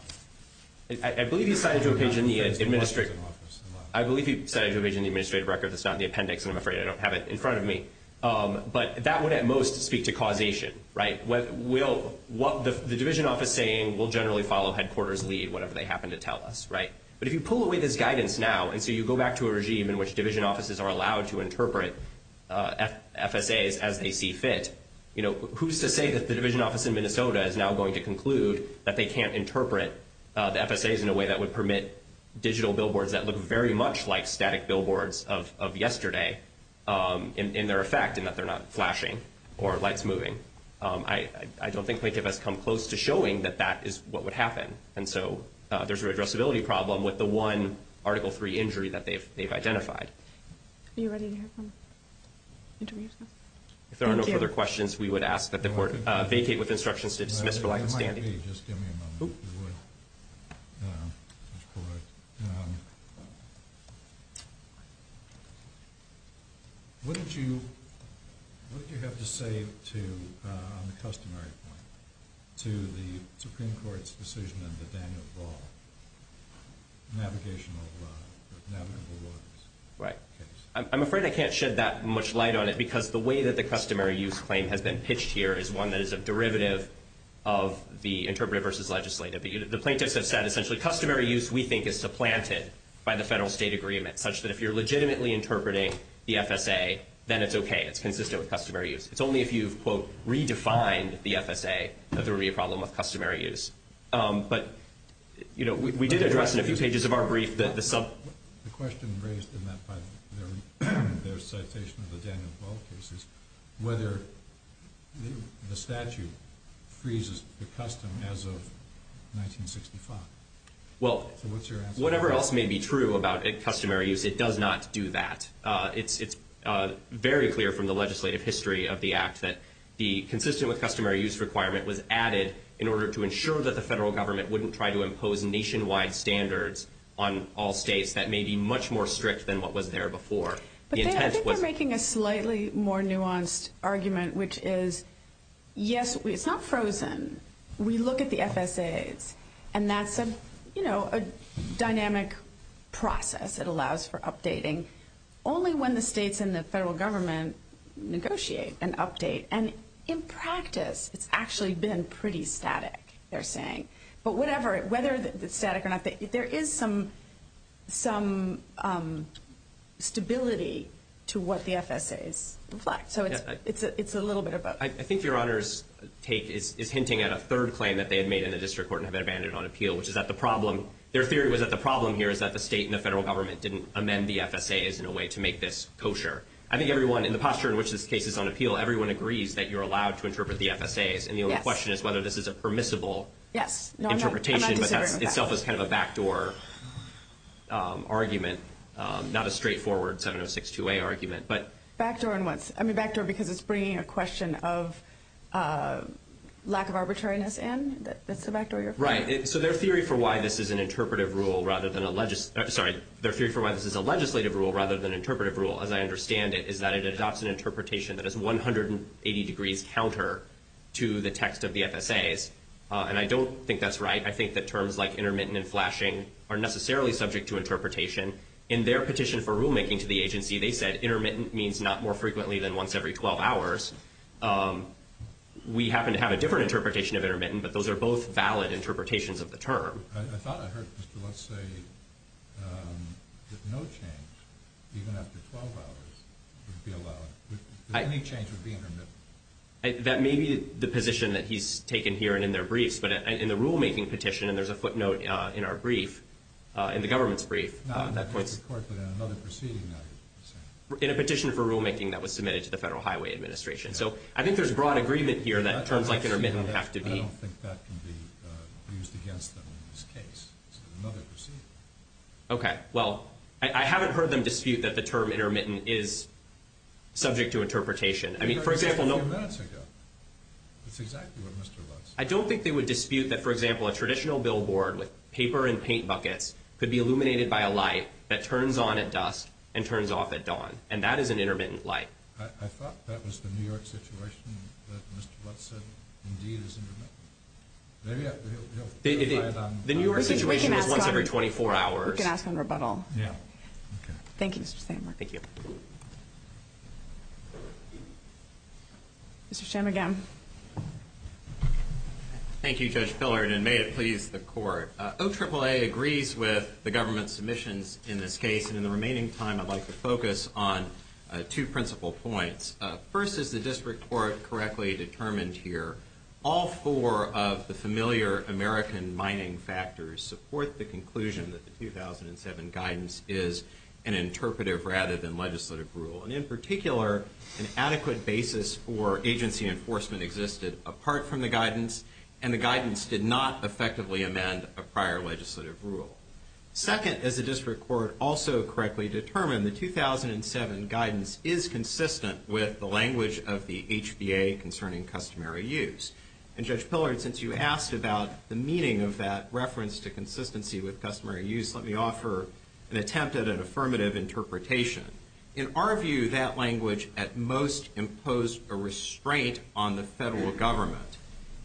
I believe he cited to a page in the administrative record. It's not in the appendix, and I'm afraid I don't have it in front of me. But that would, at most, speak to causation, right? What the division office is saying will generally follow headquarters' lead, whatever they happen to tell us, right? But if you pull away this guidance now, and so you go back to a regime in which division offices are allowed to interpret FSAs as they see fit, you know, who's to say that the division office in Minnesota is now going to conclude that they can't interpret the FSAs in a way that would permit digital billboards that look very much like static billboards of yesterday in their effect, in that they're not flashing or lights moving? I don't think any of us come close to showing that that is what would happen. And so there's a redressability problem with the one Article III injury that they've identified. Are you ready to hear from the interviewees now? If there are no further questions, we would ask that the court vacate with instructions to dismiss for light standing. It might be. Just give me a moment. What did you have to say on the customary point to the Supreme Court's decision on the Daniel Ball navigable waters? Right. I'm afraid I can't shed that much light on it, because the way that the customary use claim has been pitched here is one that is a derivative of the interpretive versus legislative. The plaintiffs have said essentially customary use, we think, is supplanted by the federal state agreement, such that if you're legitimately interpreting the FSA, then it's okay. It's consistent with customary use. It's only if you've, quote, redefined the FSA that there would be a problem with customary use. But, you know, we did address in a few pages of our brief that the sub. The question raised in that by their citation of the Daniel Ball case is whether the statute freezes the custom as of 1965. Well, whatever else may be true about customary use, it does not do that. It's very clear from the legislative history of the act that the consistent with customary use requirement was added in order to ensure that the federal government wouldn't try to impose nationwide standards on all states that may be much more strict than what was there before. I think you're making a slightly more nuanced argument, which is, yes, it's not frozen. We look at the FSAs, and that's a, you know, a dynamic process. It allows for updating only when the states and the federal government negotiate and update. And in practice, it's actually been pretty static, they're saying. But whatever, whether it's static or not, there is some stability to what the FSAs reflect. So it's a little bit of both. I think Your Honor's take is hinting at a third claim that they had made in the district court and had been abandoned on appeal, which is that the problem, their theory was that the problem here is that the state and the federal government didn't amend the FSAs in a way to make this kosher. I think everyone, in the posture in which this case is on appeal, everyone agrees that you're allowed to interpret the FSAs. Yes. And the only question is whether this is a permissible interpretation. Yes. No, I'm not disagreeing with that. But that itself is kind of a backdoor argument, not a straightforward 706-2A argument. Backdoor in what? I mean, backdoor because it's bringing a question of lack of arbitrariness in? That's the backdoor you're for? Right. So their theory for why this is an interpretive rule rather than a legislative rule, as I understand it, is that it adopts an interpretation that is 180 degrees counter to the text of the FSAs. And I don't think that's right. I think that terms like intermittent and flashing are necessarily subject to interpretation. In their petition for rulemaking to the agency, they said intermittent means not more frequently than once every 12 hours. We happen to have a different interpretation of intermittent, but those are both valid interpretations of the term. I thought I heard Mr. Lutz say that no change, even after 12 hours, would be allowed. Any change would be intermittent. That may be the position that he's taken here and in their briefs. But in the rulemaking petition, and there's a footnote in our brief, in the government's brief. No, in the court, but in another proceeding. In a petition for rulemaking that was submitted to the Federal Highway Administration. So I think there's broad agreement here that terms like intermittent have to be. I don't think that can be used against them in this case. It's another proceeding. Okay. Well, I haven't heard them dispute that the term intermittent is subject to interpretation. I mean, for example. That was a few minutes ago. That's exactly what Mr. Lutz said. I don't think they would dispute that, for example, a traditional billboard with paper and paint buckets could be illuminated by a light that turns on at dusk and turns off at dawn. And that is an intermittent light. I thought that was the New York situation that Mr. Lutz said indeed is intermittent. Maybe he'll clarify it on. The New York situation is once every 24 hours. We can ask on rebuttal. Yeah. Okay. Thank you, Mr. Sandberg. Thank you. Mr. Shanmugam. Thank you, Judge Pillard, and may it please the court. OAAA agrees with the government's submissions in this case. And in the remaining time, I'd like to focus on two principal points. First, as the district court correctly determined here, all four of the familiar American mining factors support the conclusion that the 2007 guidance is an interpretive rather than legislative rule. And in particular, an adequate basis for agency enforcement existed apart from the guidance, and the guidance did not effectively amend a prior legislative rule. Second, as the district court also correctly determined, the 2007 guidance is consistent with the language of the HBA concerning customary use. And, Judge Pillard, since you asked about the meaning of that reference to consistency with customary use, let me offer an attempt at an affirmative interpretation. In our view, that language at most imposed a restraint on the federal government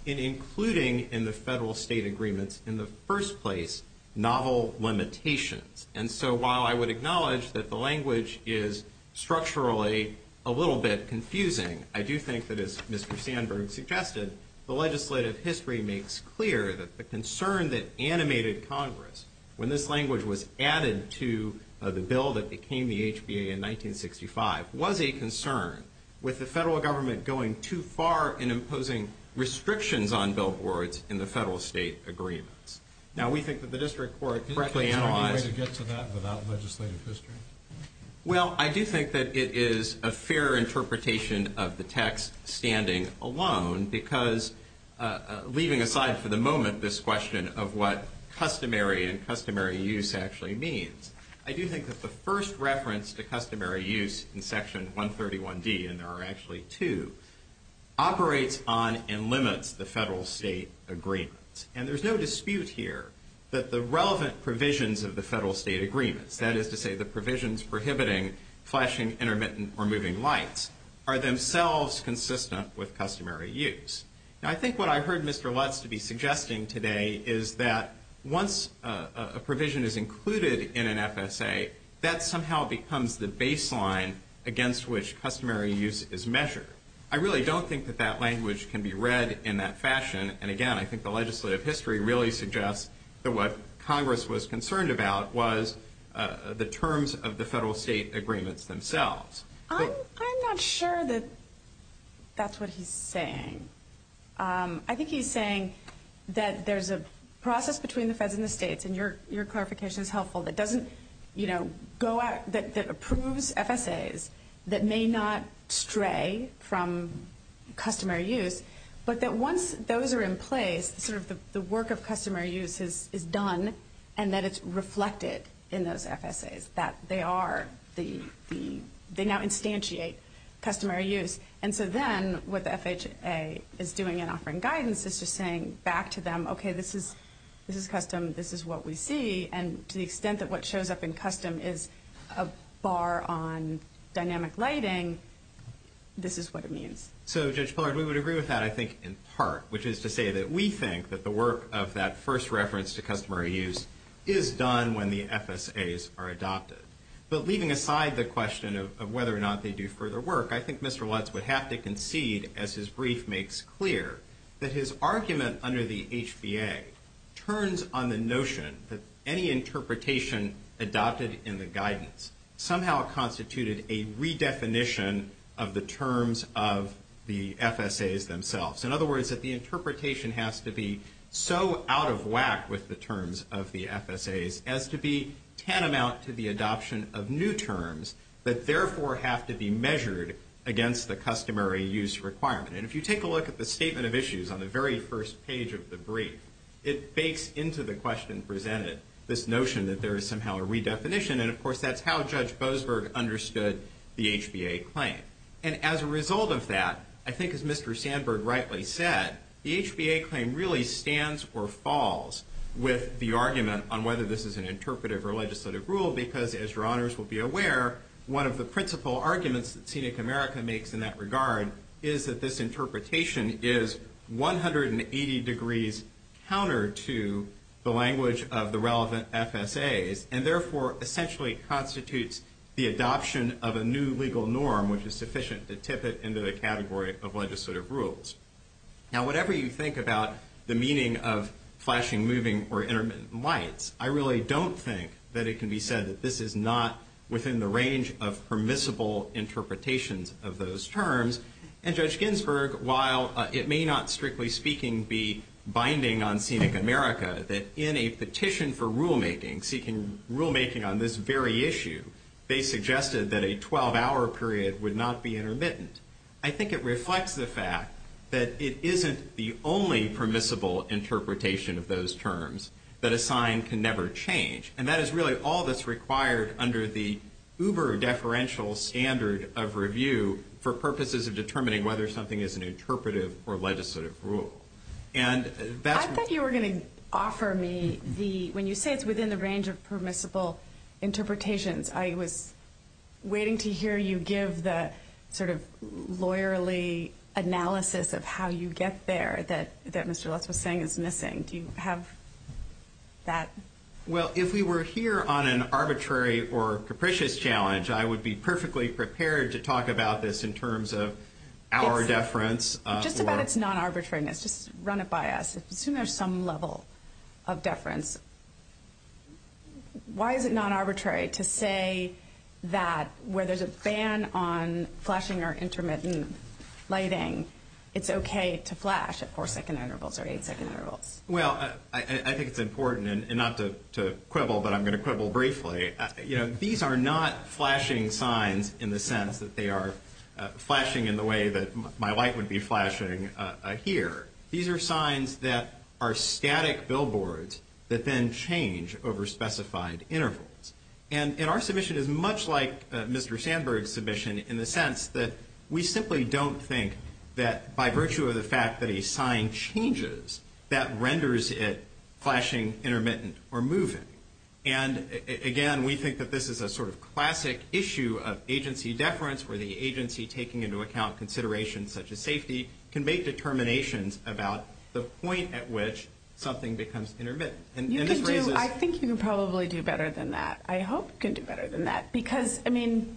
in including in the federal-state agreements in the first place novel limitations. And so while I would acknowledge that the language is structurally a little bit confusing, I do think that, as Mr. Sandberg suggested, the legislative history makes clear that the concern that animated Congress when this language was added to the bill that became the HBA in 1965 was a concern with the federal government going too far in imposing restrictions on billboards in the federal-state agreements. Now, we think that the district court correctly analyzed... Is there any way to get to that without legislative history? Well, I do think that it is a fair interpretation of the text standing alone because, leaving aside for the moment this question of what customary and customary use actually means, I do think that the first reference to customary use in Section 131D, and there are actually two, operates on and limits the federal-state agreements. And there's no dispute here that the relevant provisions of the federal-state agreements, that is to say the provisions prohibiting flashing intermittent or moving lights, are themselves consistent with customary use. Now, I think what I heard Mr. Lutz to be suggesting today is that once a provision is included in an FSA, that somehow becomes the baseline against which customary use is measured. I really don't think that that language can be read in that fashion. And, again, I think the legislative history really suggests that what Congress was concerned about was the terms of the federal-state agreements themselves. I'm not sure that that's what he's saying. I think he's saying that there's a process between the feds and the states, and your clarification is helpful, that approves FSAs that may not stray from customary use, but that once those are in place, sort of the work of customary use is done and that it's reflected in those FSAs, that they now instantiate customary use. And so then what the FHA is doing in offering guidance is just saying back to them, okay, this is custom, this is what we see, and to the extent that what shows up in custom is a bar on dynamic lighting, this is what it means. So, Judge Pillard, we would agree with that, I think, in part, which is to say that we think that the work of that first reference to customary use is done when the FSAs are adopted. But leaving aside the question of whether or not they do further work, I think Mr. Lutz would have to concede, as his brief makes clear, that his argument under the HBA turns on the notion that any interpretation adopted in the guidance somehow constituted a redefinition of the terms of the FSAs themselves. In other words, that the interpretation has to be so out of whack with the terms of the FSAs as to be tantamount to the adoption of new terms that, therefore, have to be measured against the customary use requirement. And if you take a look at the statement of issues on the very first page of the brief, it bakes into the question presented this notion that there is somehow a redefinition, and, of course, that's how Judge Boasberg understood the HBA claim. And as a result of that, I think, as Mr. Sandberg rightly said, that the HBA claim really stands or falls with the argument on whether this is an interpretive or legislative rule because, as your honors will be aware, one of the principal arguments that Scenic America makes in that regard is that this interpretation is 180 degrees counter to the language of the relevant FSAs and, therefore, essentially constitutes the adoption of a new legal norm which is sufficient to tip it into the category of legislative rules. Now, whatever you think about the meaning of flashing, moving, or intermittent lights, I really don't think that it can be said that this is not within the range of permissible interpretations of those terms. And Judge Ginsburg, while it may not strictly speaking be binding on Scenic America, that in a petition for rulemaking, seeking rulemaking on this very issue, they suggested that a 12-hour period would not be intermittent. I think it reflects the fact that it isn't the only permissible interpretation of those terms, that a sign can never change. And that is really all that's required under the uber-deferential standard of review for purposes of determining whether something is an interpretive or legislative rule. And that's... I was waiting to hear you give the sort of lawyerly analysis of how you get there that Mr. Lutz was saying is missing. Do you have that? Well, if we were here on an arbitrary or capricious challenge, I would be perfectly prepared to talk about this in terms of our deference. Just about its non-arbitrariness. Just run it by us. Assume there's some level of deference. Why is it non-arbitrary to say that where there's a ban on flashing or intermittent lighting, it's okay to flash at four-second intervals or eight-second intervals? Well, I think it's important, and not to quibble, but I'm going to quibble briefly. These are not flashing signs in the sense that they are flashing in the way that my light would be flashing here. These are signs that are static billboards that then change over specified intervals. And our submission is much like Mr. Sandberg's submission in the sense that we simply don't think that, by virtue of the fact that a sign changes, that renders it flashing, intermittent, or moving. And, again, we think that this is a sort of classic issue of agency deference, where the agency, taking into account considerations such as safety, can make determinations about the point at which something becomes intermittent. I think you can probably do better than that. I hope you can do better than that because, I mean,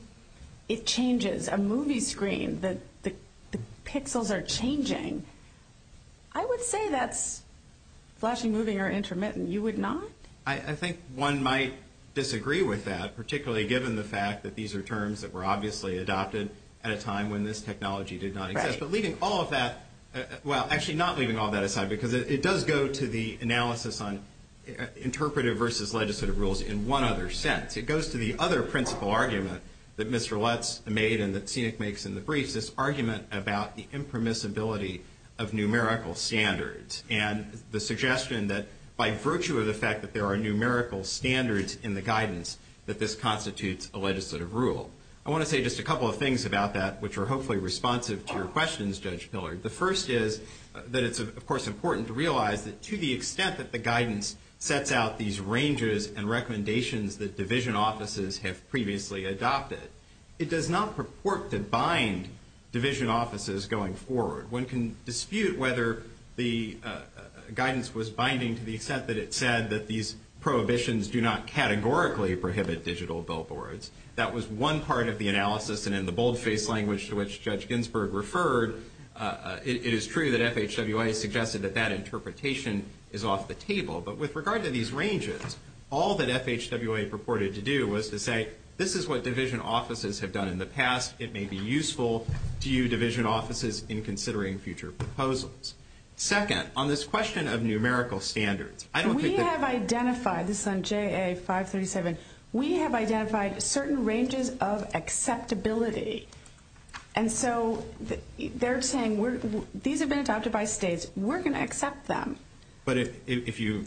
it changes. A movie screen, the pixels are changing. I would say that's flashing, moving, or intermittent. You would not? I think one might disagree with that, particularly given the fact that these are terms that were obviously adopted at a time when this technology did not exist. But leaving all of that, well, actually not leaving all of that aside, because it does go to the analysis on interpretive versus legislative rules in one other sense. It goes to the other principle argument that Mr. Lutz made and that Scenic makes in the briefs, this argument about the impermissibility of numerical standards and the suggestion that by virtue of the fact that there are numerical standards in the guidance, that this constitutes a legislative rule. I want to say just a couple of things about that, which are hopefully responsive to your questions, Judge Pillard. The first is that it's, of course, important to realize that to the extent that the guidance sets out these ranges and recommendations that division offices have previously adopted, it does not purport to bind division offices going forward. One can dispute whether the guidance was binding to the extent that it said that these prohibitions do not categorically prohibit digital billboards. That was one part of the analysis, and in the boldface language to which Judge Ginsburg referred, it is true that FHWA suggested that that interpretation is off the table. But with regard to these ranges, all that FHWA purported to do was to say, this is what division offices have done in the past. It may be useful to you division offices in considering future proposals. Second, on this question of numerical standards, I don't think that... We have identified, this is on JA 537, we have identified certain ranges of acceptability. And so they're saying these have been adopted by states. We're going to accept them. But if you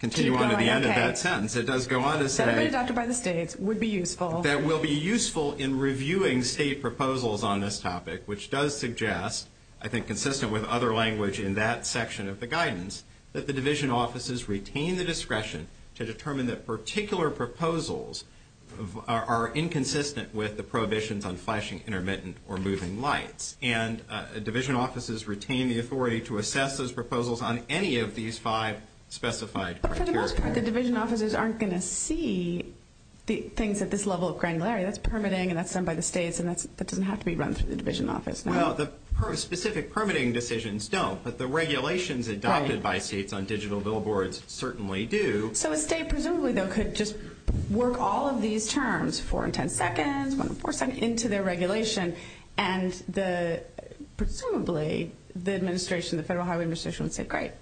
continue on to the end of that sentence, it does go on to say... That have been adopted by the states would be useful. That will be useful in reviewing state proposals on this topic, which does suggest, I think consistent with other language in that section of the guidance, that the division offices retain the discretion to determine that particular proposals are inconsistent with the prohibitions on flashing intermittent or moving lights. And division offices retain the authority to assess those proposals on any of these five specified criteria. But for the most part, the division offices aren't going to see things at this level of granularity. That's permitting, and that's done by the states, and that doesn't have to be run through the division office. Well, the specific permitting decisions don't, but the regulations adopted by states on digital billboards certainly do. So a state presumably, though, could just work all of these terms, 4 and 10 seconds, 1 and 4 seconds, into their regulation, and presumably the administration, the Federal Highway Administration, would say, great,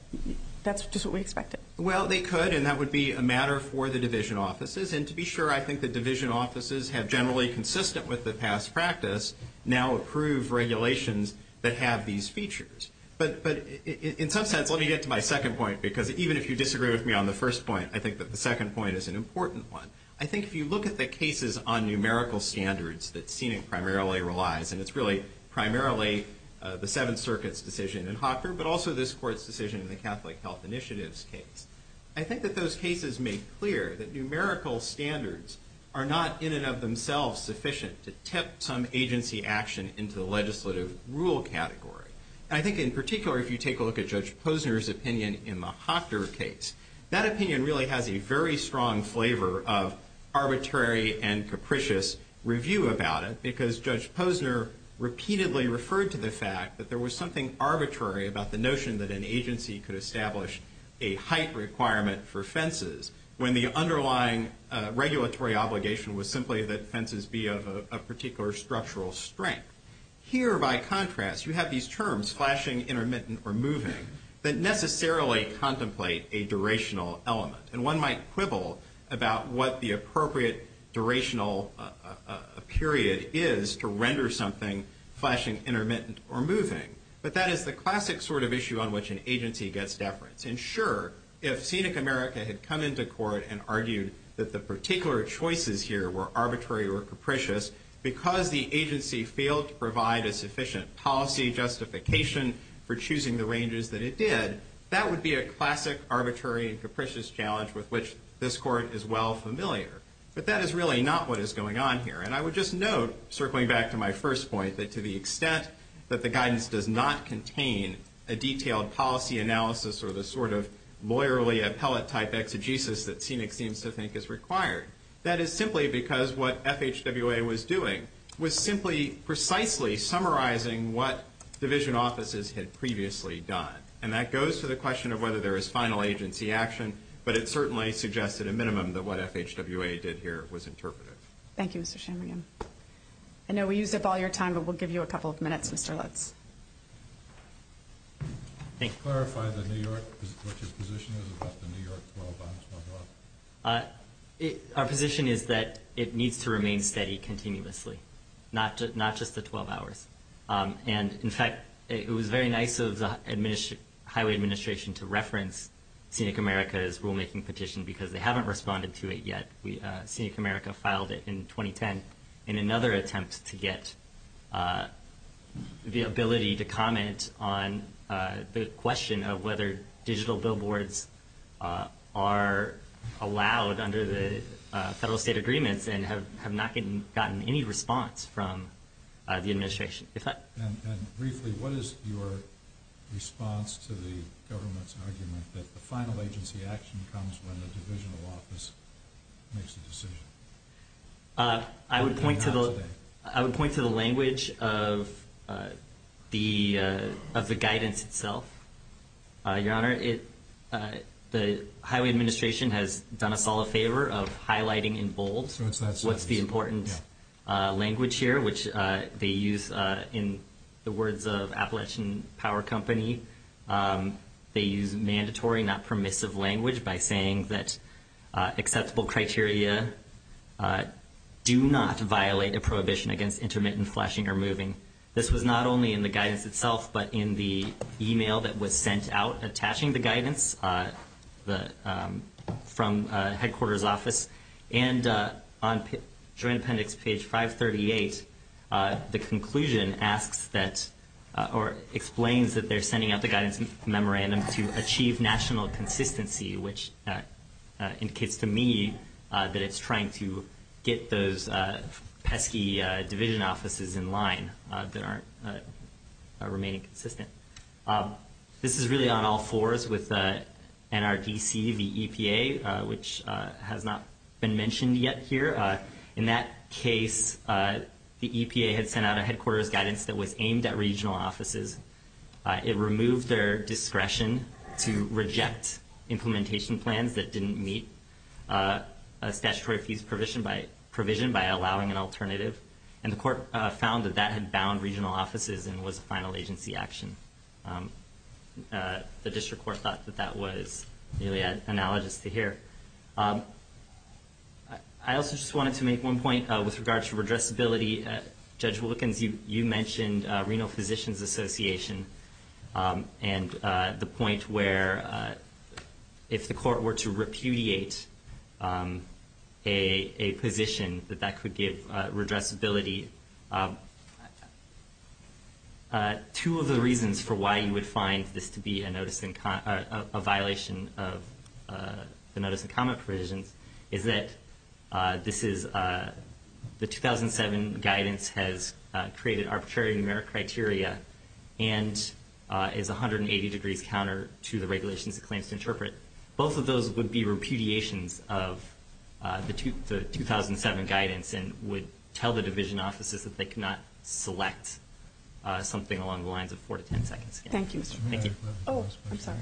that's just what we expected. Well, they could, and that would be a matter for the division offices. And to be sure, I think the division offices have generally consistent with the past practice, now approve regulations that have these features. But in some sense, let me get to my second point, because even if you disagree with me on the first point, I think that the second point is an important one. I think if you look at the cases on numerical standards that SENIC primarily relies, and it's really primarily the Seventh Circuit's decision in Hawker, but also this Court's decision in the Catholic Health Initiatives case, I think that those cases make clear that numerical standards are not in and of themselves sufficient to tip some agency action into the legislative rule category. And I think in particular, if you take a look at Judge Posner's opinion in the Hawker case, that opinion really has a very strong flavor of arbitrary and capricious review about it, because Judge Posner repeatedly referred to the fact that there was something arbitrary about the notion that an agency could establish a height requirement for fences when the underlying regulatory obligation was simply that fences be of a particular structural strength. Here, by contrast, you have these terms, flashing, intermittent, or moving, that necessarily contemplate a durational element. And one might quibble about what the appropriate durational period is to render something flashing, intermittent, or moving. But that is the classic sort of issue on which an agency gets deference. And sure, if Scenic America had come into court and argued that the particular choices here were arbitrary or capricious because the agency failed to provide a sufficient policy justification for choosing the ranges that it did, that would be a classic arbitrary and capricious challenge with which this Court is well familiar. But that is really not what is going on here. And I would just note, circling back to my first point, that to the extent that the guidance does not contain a detailed policy analysis or the sort of lawyerly appellate-type exegesis that Scenic seems to think is required, that is simply because what FHWA was doing was simply precisely summarizing what division offices had previously done. And that goes to the question of whether there is final agency action, but it certainly suggests at a minimum that what FHWA did here was interpretive. Thank you, Mr. Chamberlain. Thank you. I know we used up all your time, but we'll give you a couple of minutes, Mr. Lutz. Can you clarify what your position is about the New York 12-hours? Our position is that it needs to remain steady continuously, not just the 12 hours. And, in fact, it was very nice of the Highway Administration to reference Scenic America's rulemaking petition because they haven't responded to it yet. Scenic America filed it in 2010 in another attempt to get the ability to comment on the question of whether digital billboards are allowed under the federal-state agreements and have not gotten any response from the administration. And briefly, what is your response to the government's argument that the final agency action comes when the divisional office makes the decision? I would point to the language of the guidance itself. Your Honor, the Highway Administration has done us all a favor of highlighting in bold what's the important language here, which they use in the words of Appalachian Power Company. They use mandatory, not permissive language by saying that acceptable criteria do not violate a prohibition against intermittent flashing or moving. This was not only in the guidance itself but in the e-mail that was sent out attaching the guidance from headquarters office. And on Joint Appendix page 538, the conclusion asks that or explains that they're sending out the guidance memorandum to achieve national consistency, which indicates to me that it's trying to get those pesky division offices in line that aren't remaining consistent. This is really on all fours with NRDC v. EPA, which has not been mentioned yet here. In that case, the EPA had sent out a headquarters guidance that was aimed at regional offices. It removed their discretion to reject implementation plans that didn't meet statutory fees provision by allowing an alternative. And the court found that that had bound regional offices and was a final agency action. The district court thought that that was really analogous to here. I also just wanted to make one point with regard to redressability. Judge Wilkins, you mentioned Reno Physicians Association and the point where if the court were to repudiate a position that that could give redressability. Two of the reasons for why you would find this to be a violation of the notice and comment provisions is that the 2007 guidance has created arbitrary numeric criteria and is 180 degrees counter to the regulations it claims to interpret. Both of those would be repudiations of the 2007 guidance and would tell the division offices that they could not select something along the lines of four to ten seconds. Thank you. Oh, I'm sorry.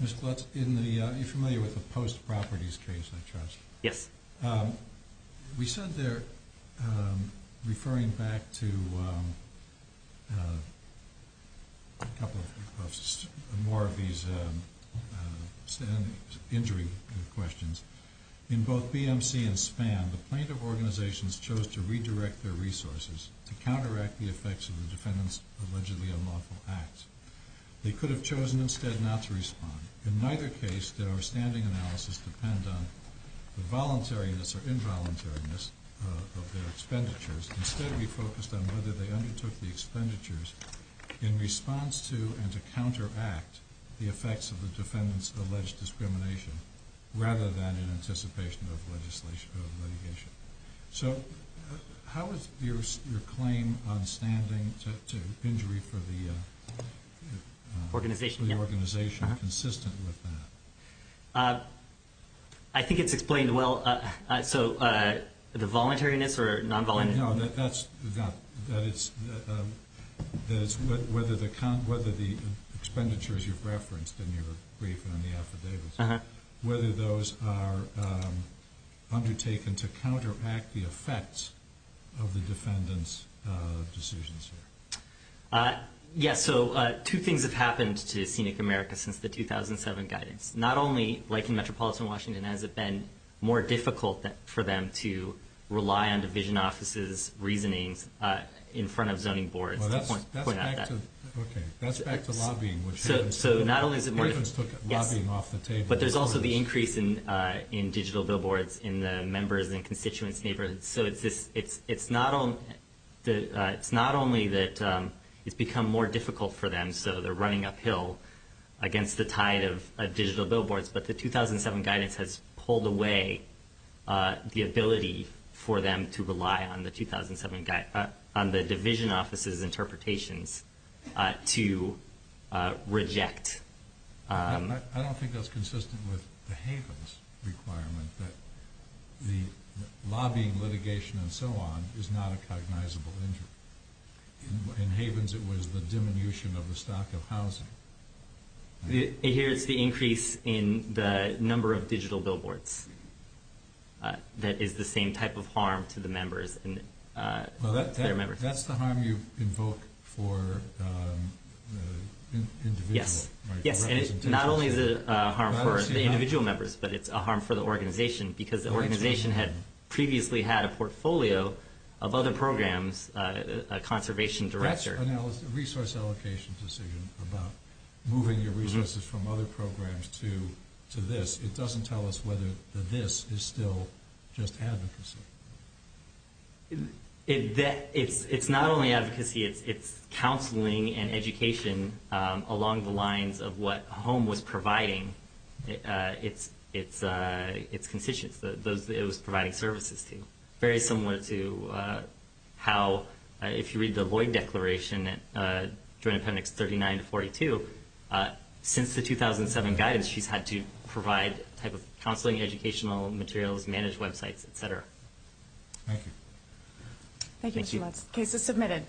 Ms. Glutz, you're familiar with the Post Properties case, I trust? Yes. We said there, referring back to more of these injury questions, in both BMC and SPAM, the plaintiff organizations chose to redirect their resources to counteract the effects of the defendant's allegedly unlawful acts. They could have chosen instead not to respond. In neither case did our standing analysis depend on the voluntariness or involuntariness of their expenditures. Instead, we focused on whether they undertook the expenditures in response to and to counteract the effects of the defendant's alleged discrimination, rather than in anticipation of litigation. So how is your claim on standing to injury for the organization consistent with that? I think it's explained well. So the voluntariness or non-voluntariness? No, that is whether the expenditures you've referenced in your brief and in the affidavits, whether those are undertaken to counteract the effects of the defendant's decisions. Yes, so two things have happened to Scenic America since the 2007 guidance. Not only, like in Metropolitan Washington, has it been more difficult for them to rely on division offices' reasonings in front of zoning boards. That's back to lobbying. Yes, but there's also the increase in digital billboards in the members' and constituents' neighborhoods. So it's not only that it's become more difficult for them, so they're running uphill against the tide of digital billboards, but the 2007 guidance has pulled away the ability for them to rely on the division offices' interpretations to reject. I don't think that's consistent with the Havens' requirement that the lobbying, litigation, and so on is not a cognizable injury. In Havens, it was the diminution of the stock of housing. Here, it's the increase in the number of digital billboards that is the same type of harm to the members. Well, that's the harm you invoke for the individual, right? Yes, and not only is it a harm for the individual members, but it's a harm for the organization because the organization had previously had a portfolio of other programs, a conservation director. That's a resource allocation decision about moving your resources from other programs to this. It doesn't tell us whether this is still just advocacy. It's not only advocacy. It's counseling and education along the lines of what HOME was providing its constituents. It was providing services to them. Very similar to how if you read the Lloyd Declaration, Joint Appendix 39-42, since the 2007 guidance, she's had to provide counseling, educational materials, managed websites, et cetera. Thank you. Thank you, Mr. Lutz. Case is submitted.